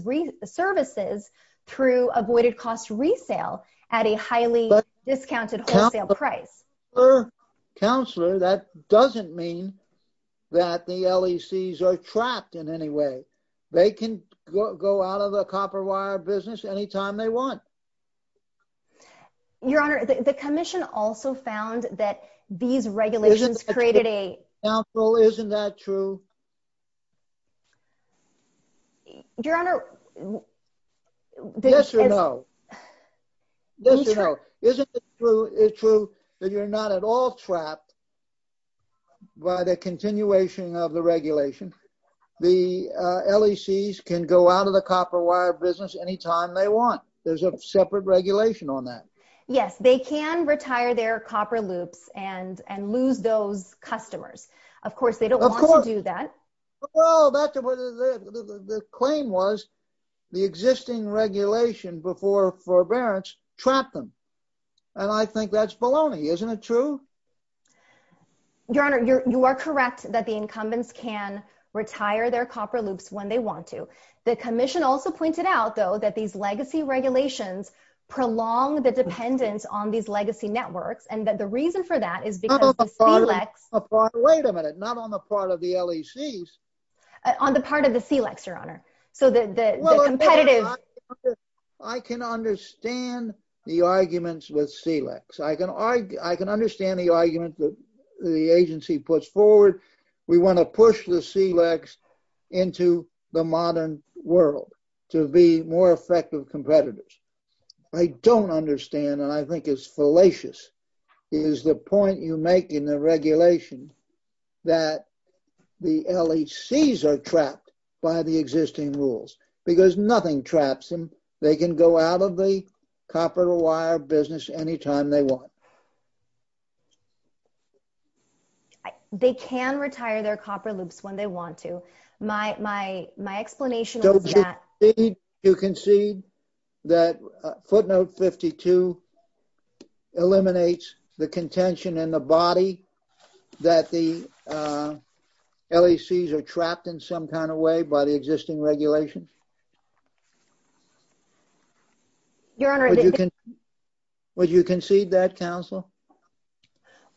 services through avoided cost resale at a highly discounted wholesale price. Counselor, that doesn't mean that the LECs are trapped in any way. They can go out of the copper wire business anytime they want. Your Honor, the commission also found that these regulations created a... Counselor, isn't that true? Your Honor... Yes or no? Yes or no? Isn't it true that you're not at all trapped by the continuation of the regulation? The LECs can go out of the copper wire business anytime they want. There's a separate regulation on that. Yes, they can retire their copper loops and lose those customers. Of course, they don't want to do that. Well, the claim was the existing regulation before forbearance trapped them. And I think that's baloney. Isn't it true? Your Honor, you are correct that the incumbents can retire their copper loops when they want to. The commission also pointed out, though, that these legacy regulations prolong the dependence on these legacy networks. And that the reason for that is because the CLECs... Wait a minute. Not on the part of the LECs. On the part of the CLECs, Your Honor. So the competitive... I can understand the arguments with CLECs. I can understand the argument that the agency puts forward. We want to push the CLECs into the modern world to be more effective competitors. I don't understand, and I think it's fallacious, is the point you make in the regulation that the LECs are trapped by the existing rules. Because nothing traps them. They can go out of the copper wire business anytime they want. They can retire their copper loops when they want to. My explanation is that... So do you concede that footnote 52 eliminates the contention in the body that the LECs are trapped in some kind of way by the existing regulations? Your Honor, the... Would you concede that count?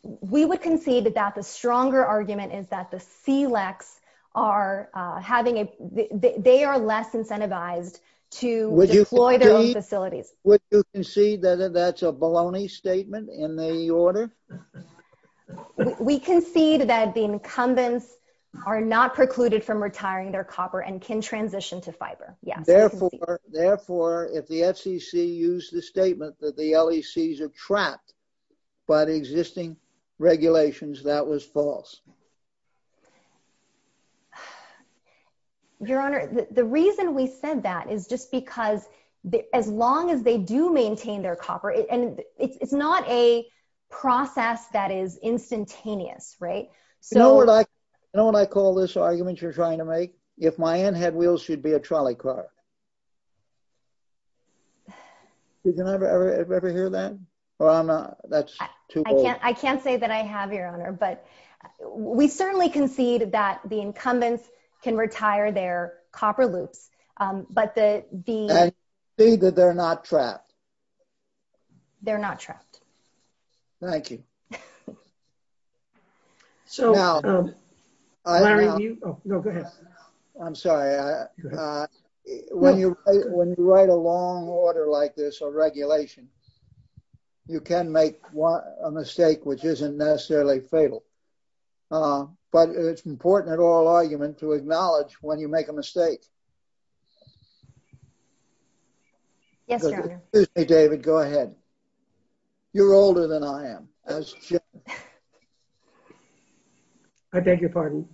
We would concede that that's a stronger argument, is that the CLECs are having a... They are less incentivized to deploy their own facilities. Would you concede that that's a baloney statement in the order? We concede that the incumbents are not precluded from retiring their copper and can transition to fiber. Yeah. Therefore, if the FCC used the statement that the LECs are trapped by the existing regulations, that was false. Your Honor, the reason we said that is just because as long as they do maintain their copper... And it's not a process that is instantaneous, right? You know what I call this argument you're trying to make? If my aunt had wheels, she'd be a trolley car. Did you ever hear that? That's too bold. I can't say that I have, Your Honor, but we certainly concede that the incumbents can retire their copper loop, but the... I concede that they're not trapped. They're not trapped. Thank you. I'm sorry. When you write a long order like this on regulation, you can make a mistake which isn't necessarily fatal. But it's important at oral argument to acknowledge when you make a mistake. Yes, Your Honor. Excuse me, David. Go ahead. You're older than I am. I beg your pardon.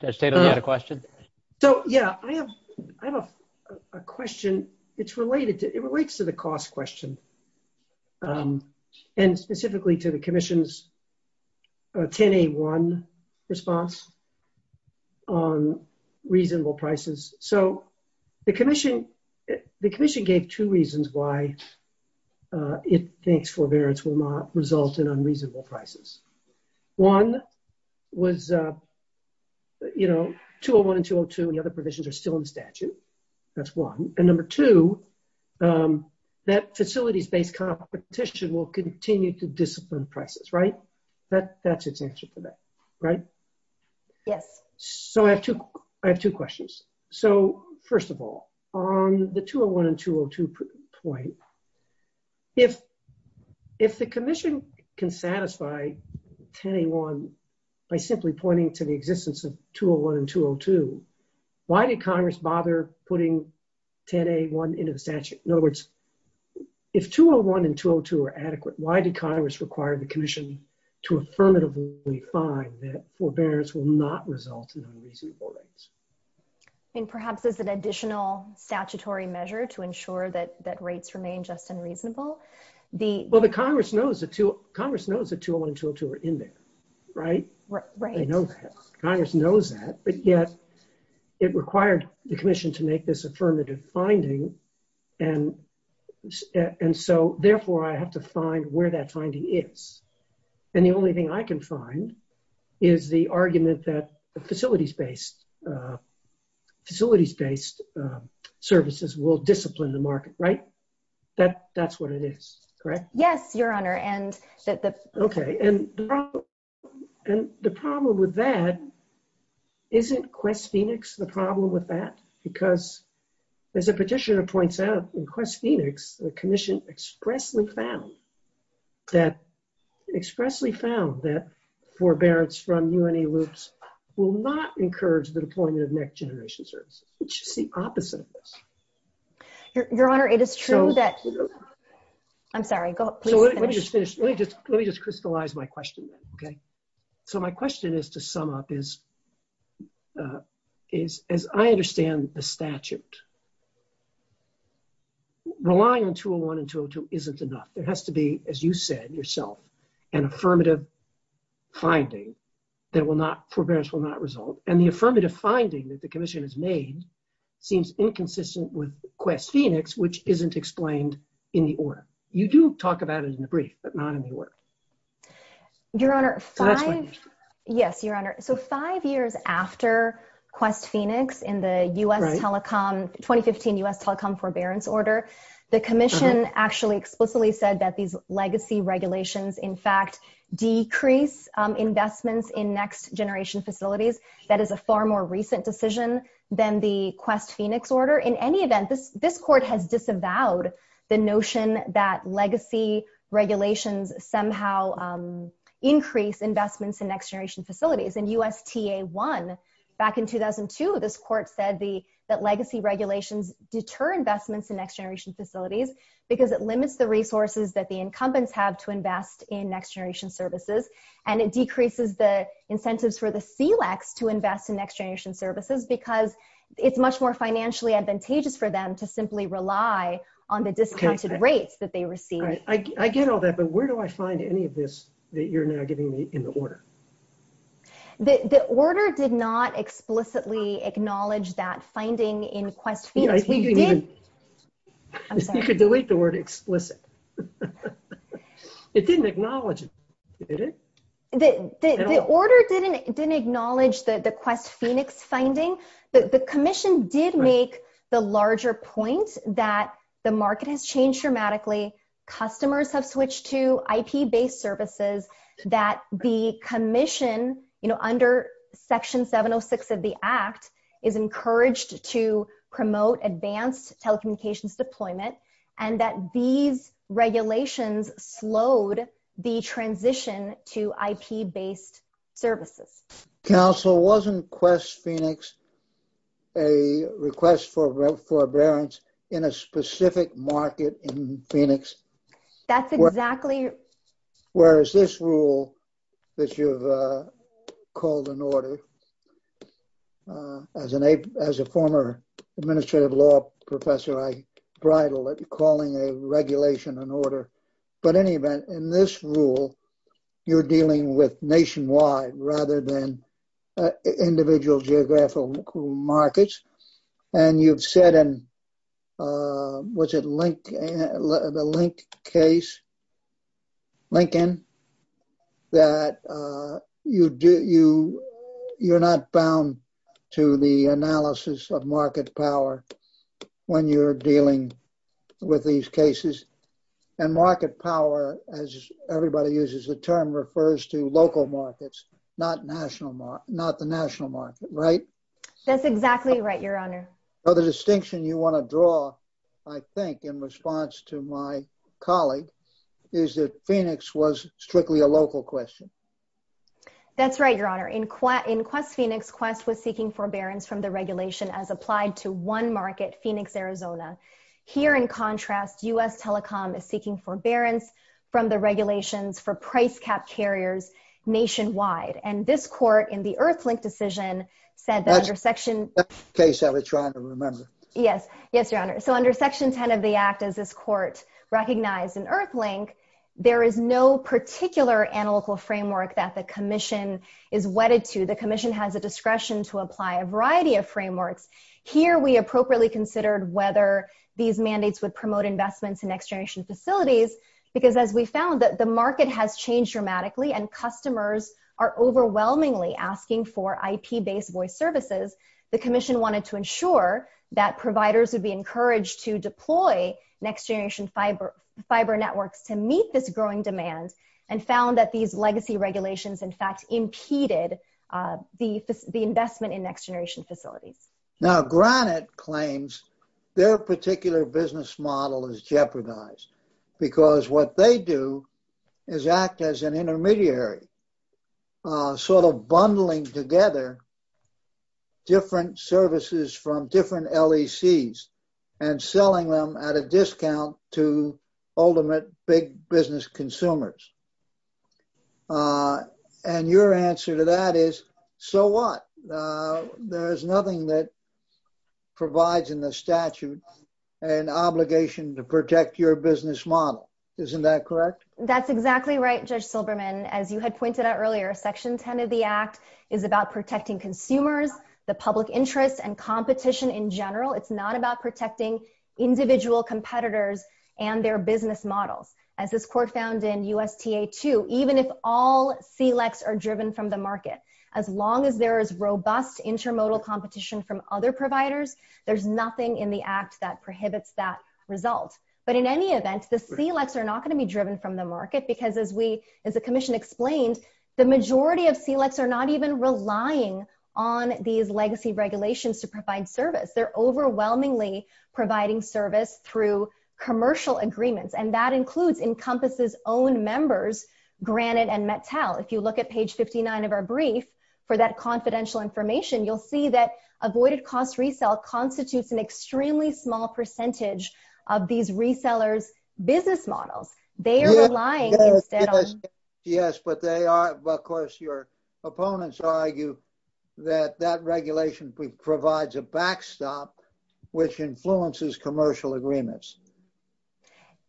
Does David have a question? So yeah, I have a question. It's related to... It relates to the cost question and specifically to the commission's 10A1 response on reasonable prices. So the commission gave two reasons why it thinks forbearance will not result in unreasonable prices. One was, you know, 201 and 202, the other provisions are still in statute. That's one. And number two, that facilities-based competition will continue to discipline prices, right? That's its answer to that, right? Yes. So I have two questions. So first of all, on the 201 and 202 point, if the commission can satisfy 10A1 by simply pointing to the existence of 201 and 202, why did Congress bother putting 10A1 into the statute? In other words, if 201 and 202 are adequate, why did Congress require the commission to affirmatively find that forbearance will not result in unreasonable rates? I think perhaps it's an additional statutory measure to ensure that rates remain just and reasonable. Well, the Congress knows that 201 and 202 are in there, right? Right. They know that. But yet it required the commission to make this affirmative finding. And so therefore, I have to find where that finding is. And the only thing I can find is the argument that facilities-based services will discipline the market, right? That's what it is, correct? Yes, Your Honor. Okay. And the problem with that, isn't Quest-Phoenix the problem with that? Because as the petitioner points out, in Quest-Phoenix, the commission expressly found that forbearance from UNA loops will not encourage the deployment of next-generation services. It's just the opposite of this. Your Honor, it is true that... I'm sorry. So let me just finish. Let me just crystallize my question, okay? So my question is to sum up is, as I understand the statute, relying on 201 and 202 isn't enough. It has to be, as you said yourself, an affirmative finding that will not, forbearance will not result. And the affirmative finding that the commission has made seems inconsistent with Quest-Phoenix, which isn't explained in the order. You do talk about it in the brief, but not in the order. Your Honor, yes, Your Honor. So five years after Quest-Phoenix in the 2015 U.S. telecom forbearance order, the commission actually explicitly said that these legacy regulations, in fact, decrease investments in next-generation facilities. That is a far more recent decision than the Quest-Phoenix order. In any event, this court has disavowed the notion that legacy regulations somehow increase investments in next-generation facilities. In USTA-1, back in 2002, this court said that legacy regulations deter investments in next-generation facilities because it limits the resources that the incumbents have to invest in next-generation services. And it decreases the incentives for the SELEX to invest in next-generation services because it's much more financially advantageous for them to simply rely on the discounted rates that they receive. I get all that, but where do I find any of this that you're now giving me in the order? The order did not explicitly acknowledge that finding in Quest-Phoenix. Yeah, I think you need to delete the word explicit. It didn't acknowledge it, did it? The order didn't acknowledge the Quest-Phoenix finding. The commission did make the larger point that the market has changed dramatically, customers have switched to IP-based services, that the commission, under Section 706 of the Act, is encouraged to promote advanced telecommunications deployment, and that these are IP-based services. Counsel, wasn't Quest-Phoenix a request for forbearance in a specific market in Phoenix? That's exactly... Whereas this rule that you've called an order, as a former administrative law professor, I bridle at calling a regulation an order. But in any event, in this rule, you're dealing with nationwide rather than individual geographical markets. And you've said in, was it the Link case, Lincoln, that you're not bound to the analysis of market power when you're dealing with these cases? And market power, as everybody uses the term, refers to local markets, not the national market, right? That's exactly right, Your Honor. But the distinction you want to draw, I think, in response to my colleague, is that Phoenix was strictly a local question. That's right, Your Honor. In Quest-Phoenix, Quest was seeking forbearance from the regulation as applied to one market, Phoenix, Arizona. Here, in contrast, U.S. Telecom is seeking forbearance from the regulations for price cap carriers nationwide. And this court, in the EarthLink decision, said that under Section... That's the case that we're trying to remember. Yes. Yes, Your Honor. So under Section 10 of the Act, as this court recognized in EarthLink, there is no particular analytical framework that the commission is wedded to. The commission has the discretion to apply a variety of frameworks. Here, we appropriately considered whether these mandates would promote investments in next-generation facilities, because as we found that the market has changed dramatically, and customers are overwhelmingly asking for IP-based voice services, the commission wanted to ensure that providers would be encouraged to deploy next-generation fiber networks to meet this growing demand, and found that these legacy regulations, in fact, impeded the investment in next-generation facilities. Now, Granite claims their particular business model is jeopardized, because what they do is act as an intermediary, sort of bundling together different services from different LECs, and selling them at a discount to ultimate big business consumers. And your answer to that is, so what? There's nothing that provides in the statute an obligation to protect your business model. Isn't that correct? That's exactly right, Judge Silberman. As you had pointed out earlier, Section 10 of the Act is about protecting consumers, the public interest, and competition in general. It's not about protecting individual competitors and their business models. As this Court found in USTA 2, even if all CLECs are driven from the market, as long as there is robust intermodal competition from other providers, there's nothing in the Act that prohibits that result. But in any event, the CLECs are not going to be driven from the market, because as the Commission explained, the majority of CLECs are not even relying on these legacy regulations to provide service. They're overwhelmingly providing service through commercial agreements, and that includes Encompass's own members, Granite and Metcal. If you look at page 59 of our brief, for that confidential information, you'll see that avoided cost resale constitutes an extremely small percentage of these resellers' business models. They are relying instead on... Yes, but they are... Of course, your opponents argue that that regulation provides a backstop, which influences commercial agreements.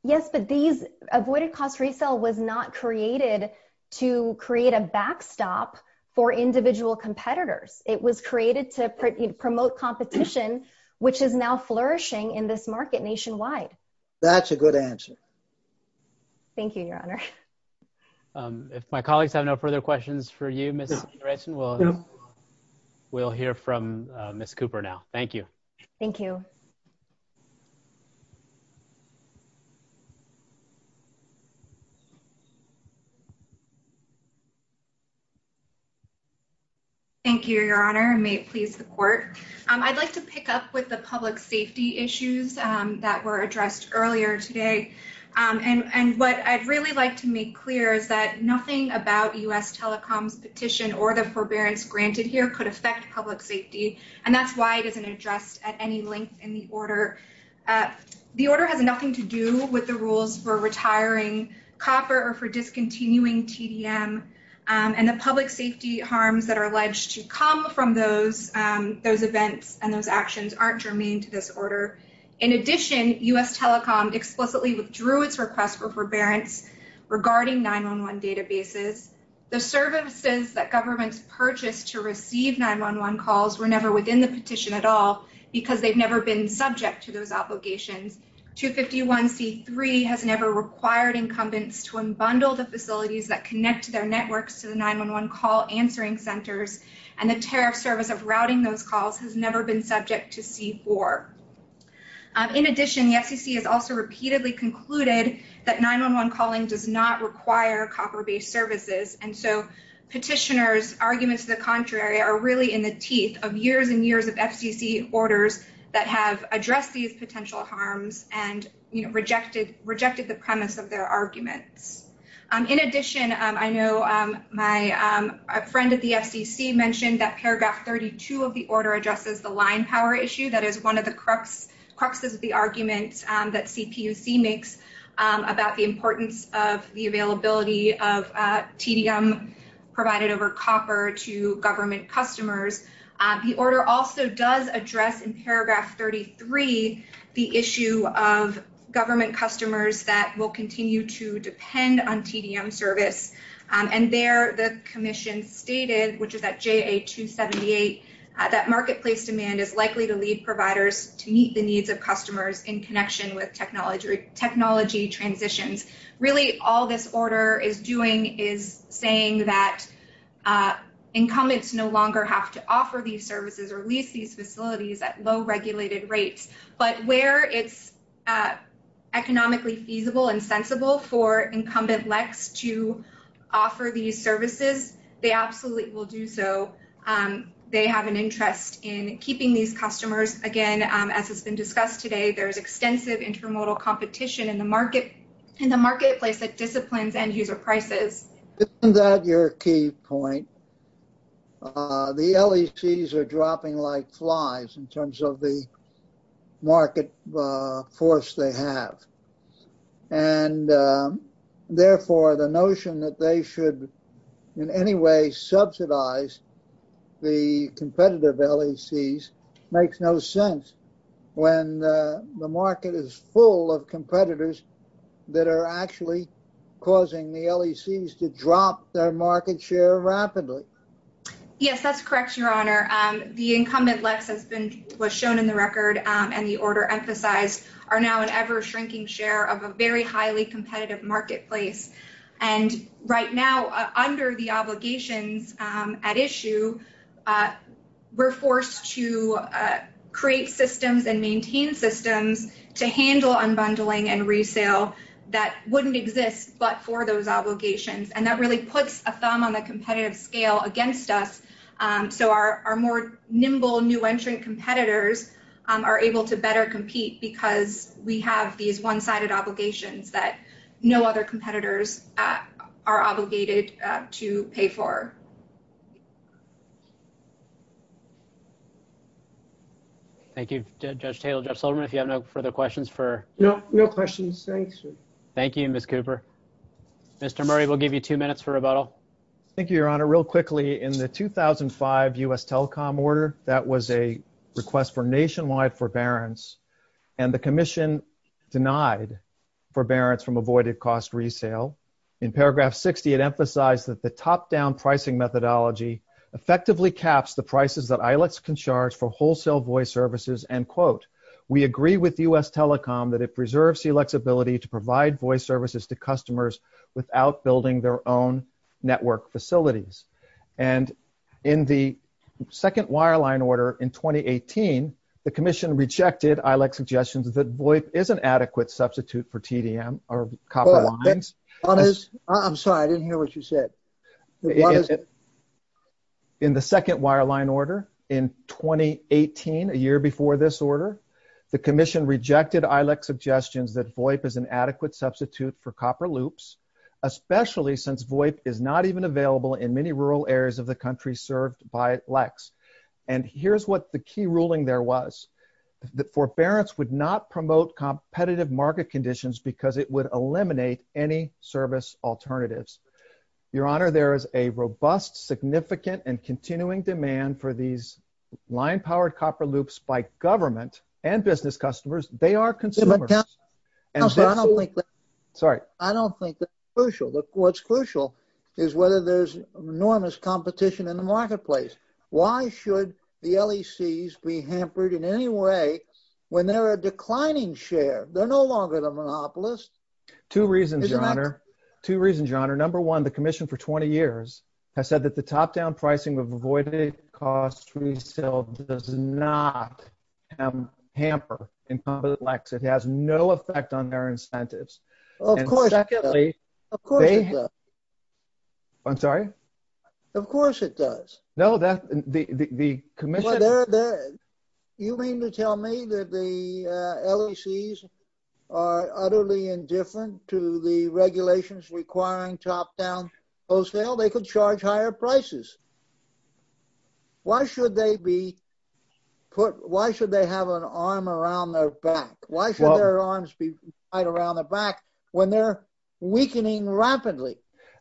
Yes, but these avoided cost resale was not created to create a backstop for individual competitors. It was created to promote competition, which is now flourishing in this market nationwide. That's a good answer. Thank you, Your Honor. If my colleagues have no further questions for you, Ms. Anderson, we'll hear from Ms. Cooper now. Thank you. Thank you. Thank you, Your Honor, and may it please the Court. I'd like to pick up with the public safety issues that were addressed earlier today. And what I'd really like to make clear is that nothing about U.S. telecom petition or the forbearance granted here could affect public safety, and that's why it isn't addressed at any length in the order. The order has nothing to do with the rules for retiring copper or for discontinuing TDM, and the public safety harms that are alleged to come from those events and those actions aren't germane to this order. In addition, U.S. telecom explicitly withdrew its request for forbearance regarding 911 databases. The services that governments purchased to receive 911 calls were never within the petition at all because they've never been subject to those obligations. 251C3 has never required incumbents to unbundle the facilities that connect their networks to the 911 call answering centers, and the tariff service of routing those calls has never been subject to C4. In addition, the FCC has also repeatedly concluded that 911 calling does not require copper based services, and so petitioners' arguments to the contrary are really in the teeth of years and years of FCC orders that have addressed these potential harms and, you know, rejected the premise of their argument. In addition, I know my friend at the FCC mentioned that paragraph 32 of the order addresses the line power issue. That is one of the cruxes of the arguments that CPUC makes about the importance of the availability of TDM provided over copper to government customers. The order also does address in paragraph 33 the issue of government customers that will continue to depend on TDM service, and there the commission stated, which is at JA278, that marketplace demand is likely to lead providers to meet the needs of customers in connection with technology transitions. Really, all this order is doing is saying that incumbents no longer have to offer these services or leave these facilities at low regulated rates, but where it's economically feasible and sensible for incumbent LECs to offer these services, they absolutely will do so. They have an interest in keeping these customers. Again, as has been discussed today, there's extensive intermodal competition in the marketplace that disciplines end user prices. Isn't that your key point? The LECs are dropping like flies in terms of the market force they have, and therefore the notion that they should in any way subsidize the competitive LECs makes no sense when the market is full of competitors that are actually causing the LECs to drop their market share rapidly. Yes, that's correct, Your Honor. The incumbent LECs, as was shown in the record and the order emphasized, are now an ever competitive marketplace. Right now, under the obligations at issue, we're forced to create systems and maintain systems to handle unbundling and resale that wouldn't exist but for those obligations. That really puts a thumb on the competitive scale against us, so our more nimble new entrant competitors are able to better compete because we have these one-sided obligations that no other competitors are obligated to pay for. Thank you, Judge Taylor. Judge Solderman, if you have no further questions for... No, no questions. Thanks. Thank you, Ms. Cooper. Mr. Murray, we'll give you two minutes for rebuttal. Thank you, Your Honor. Real quickly, in the 2005 U.S. telecom order, that was a request for nationwide forbearance, and the commission denied forbearance from avoided cost resale. In paragraph 60, it emphasized that the top-down pricing methodology effectively caps the prices that ILEX can charge for wholesale voice services, and, quote, we agree with U.S. telecom that it preserves the flexibility to provide voice services to customers without building their own network facilities. And in the second wireline order in 2018, the commission rejected ILEX suggestions that VOIP is an adequate substitute for TDM or copper lines. I'm sorry. I didn't know what you said. In the second wireline order in 2018, a year before this order, the commission rejected ILEX suggestions that VOIP is an adequate substitute for copper loops, especially since VOIP is not even available in many rural areas of the country served by ILEX. And here's what the key ruling there was. That forbearance would not promote competitive market conditions because it would eliminate any service alternatives. Your Honor, there is a robust, significant, and continuing demand for these line-powered copper loops by government and business customers. They are consumers. Sorry. I don't think that's crucial. What's crucial is whether there's enormous competition in the marketplace. Why should the LECs be hampered in any way when they're a declining share? They're no longer the monopolist. Two reasons, Your Honor. Two reasons, Your Honor. Number one, the commission for 20 years has said that the top-down pricing of avoided cost resale does not hamper incompetent ILEX. It has no effect on their incentives. Of course it does. I'm sorry? Of course it does. No, that's the commission. You mean to tell me that the LECs are utterly indifferent to the regulations requiring top-down wholesale? They could charge higher prices. Why should they have an arm around their back? Why should their arms be tied around the back when they're weakening rapidly?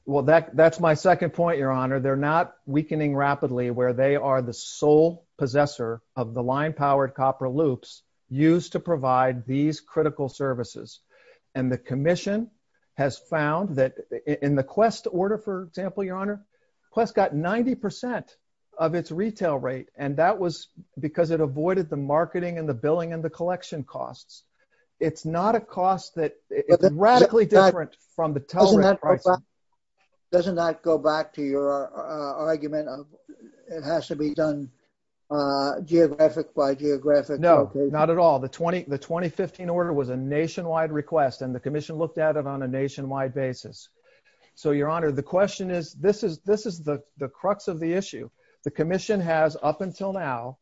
Well, that's my second point, Your Honor. They're not weakening rapidly where they are the sole possessor of the line-powered copper loops used to provide these critical services. And the commission has found that in the Quest order, for example, Your Honor, Quest got 90% of its retail rate, and that was because it avoided the marketing and the billing and it's not a cost that is radically different from the top-down pricing. Doesn't that go back to your argument of it has to be done geographic by geographic? No, not at all. The 2015 order was a nationwide request, and the commission looked at it on a nationwide basis. So, Your Honor, the question is, this is the crux of the issue. The commission has, up until now,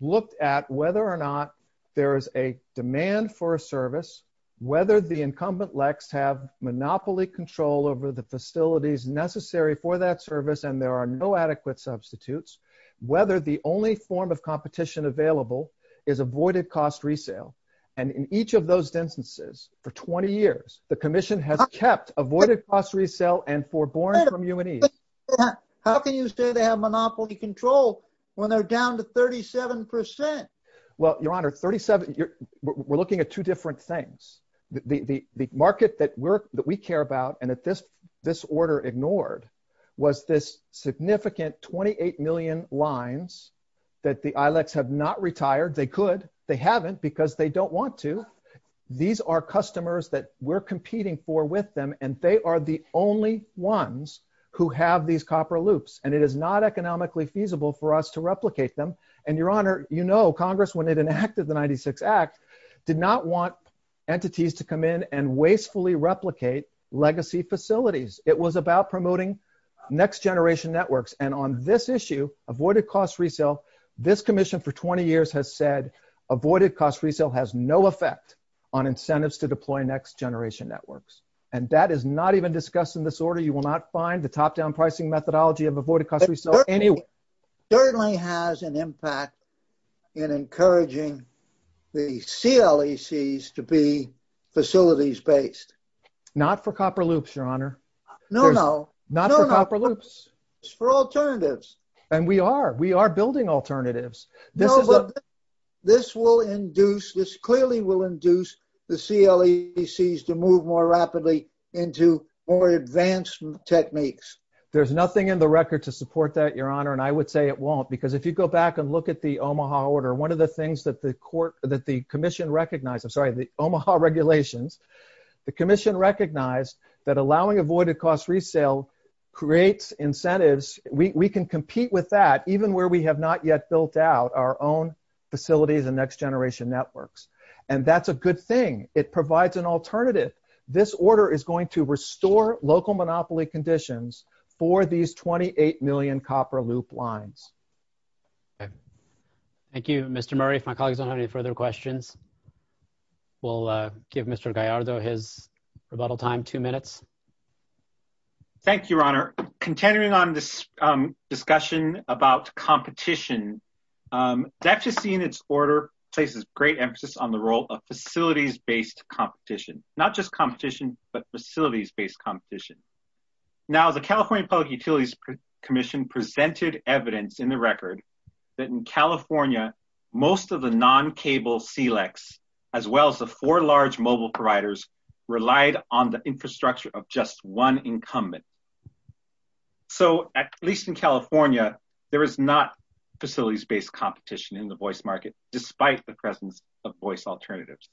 looked at whether or not there is a demand for a service, whether the incumbent LECs have monopoly control over the facilities necessary for that service and there are no adequate substitutes, whether the only form of competition available is avoided-cost resale. And in each of those instances, for 20 years, the commission has kept avoided-cost resale and forbore from U&E. How can you say they have monopoly control when they're down to 37%? Well, Your Honor, we're looking at two different things. The market that we care about and that this order ignored was this significant 28 million lines that the ILECs have not retired. They could. They haven't because they don't want to. These are customers that we're competing for with them, and they are the only ones who have these copper loops. And it is not economically feasible for us to replicate them. And, Your Honor, you know Congress, when it enacted the 96 Act, did not want entities to come in and wastefully replicate legacy facilities. It was about promoting next-generation networks. And on this issue, avoided-cost resale, this commission for 20 years has said avoided-cost resale has no effect on incentives to deploy next-generation networks. And that is not even discussed in this order. You will not find the top-down pricing methodology of avoided-cost resale anywhere. It certainly has an impact in encouraging the CLECs to be facilities-based. Not for copper loops, Your Honor. No, no. Not for copper loops. It's for alternatives. And we are. We are building alternatives. No, but this will induce, this clearly will induce the CLECs to move more rapidly into more advanced techniques. There's nothing in the record to support that, Your Honor, and I would say it won't. Because if you go back and look at the Omaha order, one of the things that the commission recognized, I'm sorry, the Omaha regulation, the commission recognized that allowing avoided-cost resale creates incentives. We can compete with that even where we have not yet built out our own facilities and next-generation networks. And that's a good thing. It provides an alternative. This order is going to restore local monopoly conditions for these 28 million copper loop lines. Okay. Thank you, Mr. Murray. If my colleagues don't have any further questions, we'll give Mr. Gallardo his rebuttal time, two minutes. Thank you, Your Honor. Contending on this discussion about competition, that just in its order places great emphasis on the role of facilities-based competition, not just competition, but facilities-based competition. Now, the California Public Utilities Commission presented evidence in the record that in California, most of the non-cable CLECs, as well as the four large mobile providers, relied on the infrastructure of just one incumbent. So, at least in California, there is not facilities-based competition in the voice market, despite the presence of voice alternatives.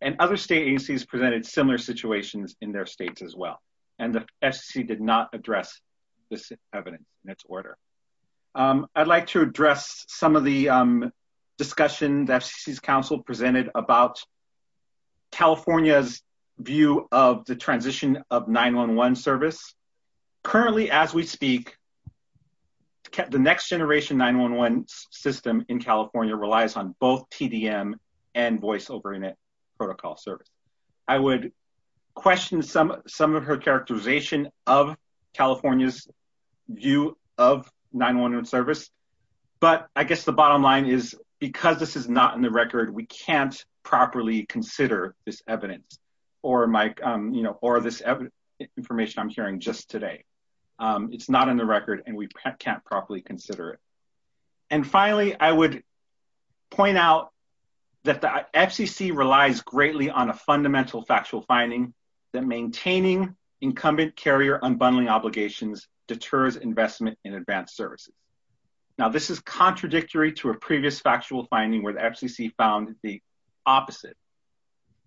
And other state agencies presented similar situations in their states as well. And the FCC did not address this evidence in its order. I'd like to address some of the discussion the FCC's counsel presented about California's view of the transition of 911 service. Currently, as we speak, the next generation 911 system in California relies on both PDM and voice over internet protocol service. I would question some of her characterization of California's view of 911 service. But I guess the bottom line is, because this is not in the record, we can't properly consider this evidence. Or this information I'm sharing just today. It's not in the record, and we can't properly consider it. And finally, I would point out that the FCC relies greatly on a fundamental factual finding that maintaining incumbent carrier unbundling obligations deters investment in advanced services. Now, this is contradictory to a previous factual finding where the FCC found the opposite.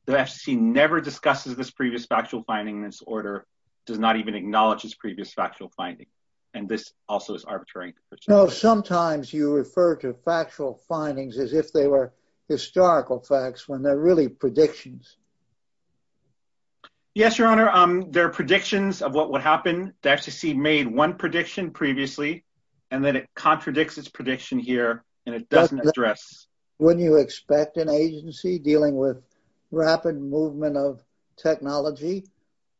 The FCC never discusses this previous factual finding in this order. Does not even acknowledge this previous factual finding. And this also is arbitrary. Sometimes you refer to factual findings as if they were historical facts when they're really predictions. Yes, Your Honor. They're predictions of what would happen. The FCC made one prediction previously, and then it contradicts its prediction here, and it doesn't address. Wouldn't you expect an agency dealing with rapid movement of technology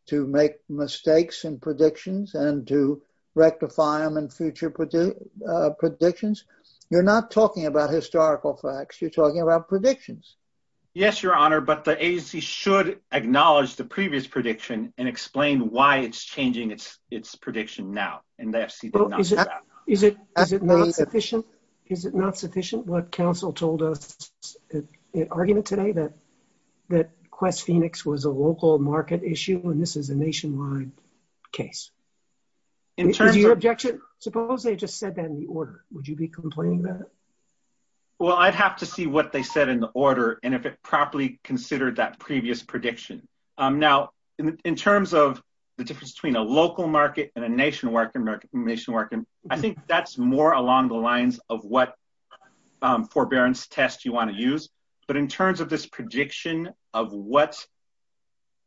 to make mistakes in predictions and to rectify them in future predictions? You're not talking about historical facts. You're talking about predictions. Yes, Your Honor. But the agency should acknowledge the previous prediction and explain why it's changing its prediction now. Well, is it not sufficient? Is it not sufficient? What counsel told us in an argument today that Quest Phoenix was a local market issue, and this is a nationwide case. In terms of your objection, suppose they just said that in the order. Would you be complaining about it? Well, I'd have to see what they said in the order and if it properly considered that previous prediction. Now, in terms of the difference between a local market and a nationwide, I think that's more along the lines of what forbearance test you want to use. But in terms of this prediction of what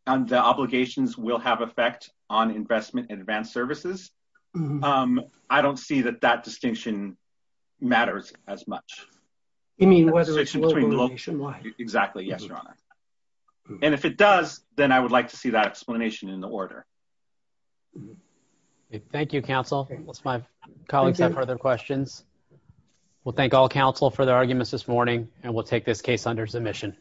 the obligations will have effect on investment and advanced services, I don't see that that distinction matters as much. You mean whether it's local or nationwide? Exactly. Yes, Your Honor. And if it does, then I would like to see that explanation in the order. Thank you, counsel. It was my colleagues have further questions. We'll thank all counsel for their arguments this morning, and we'll take this case under submission.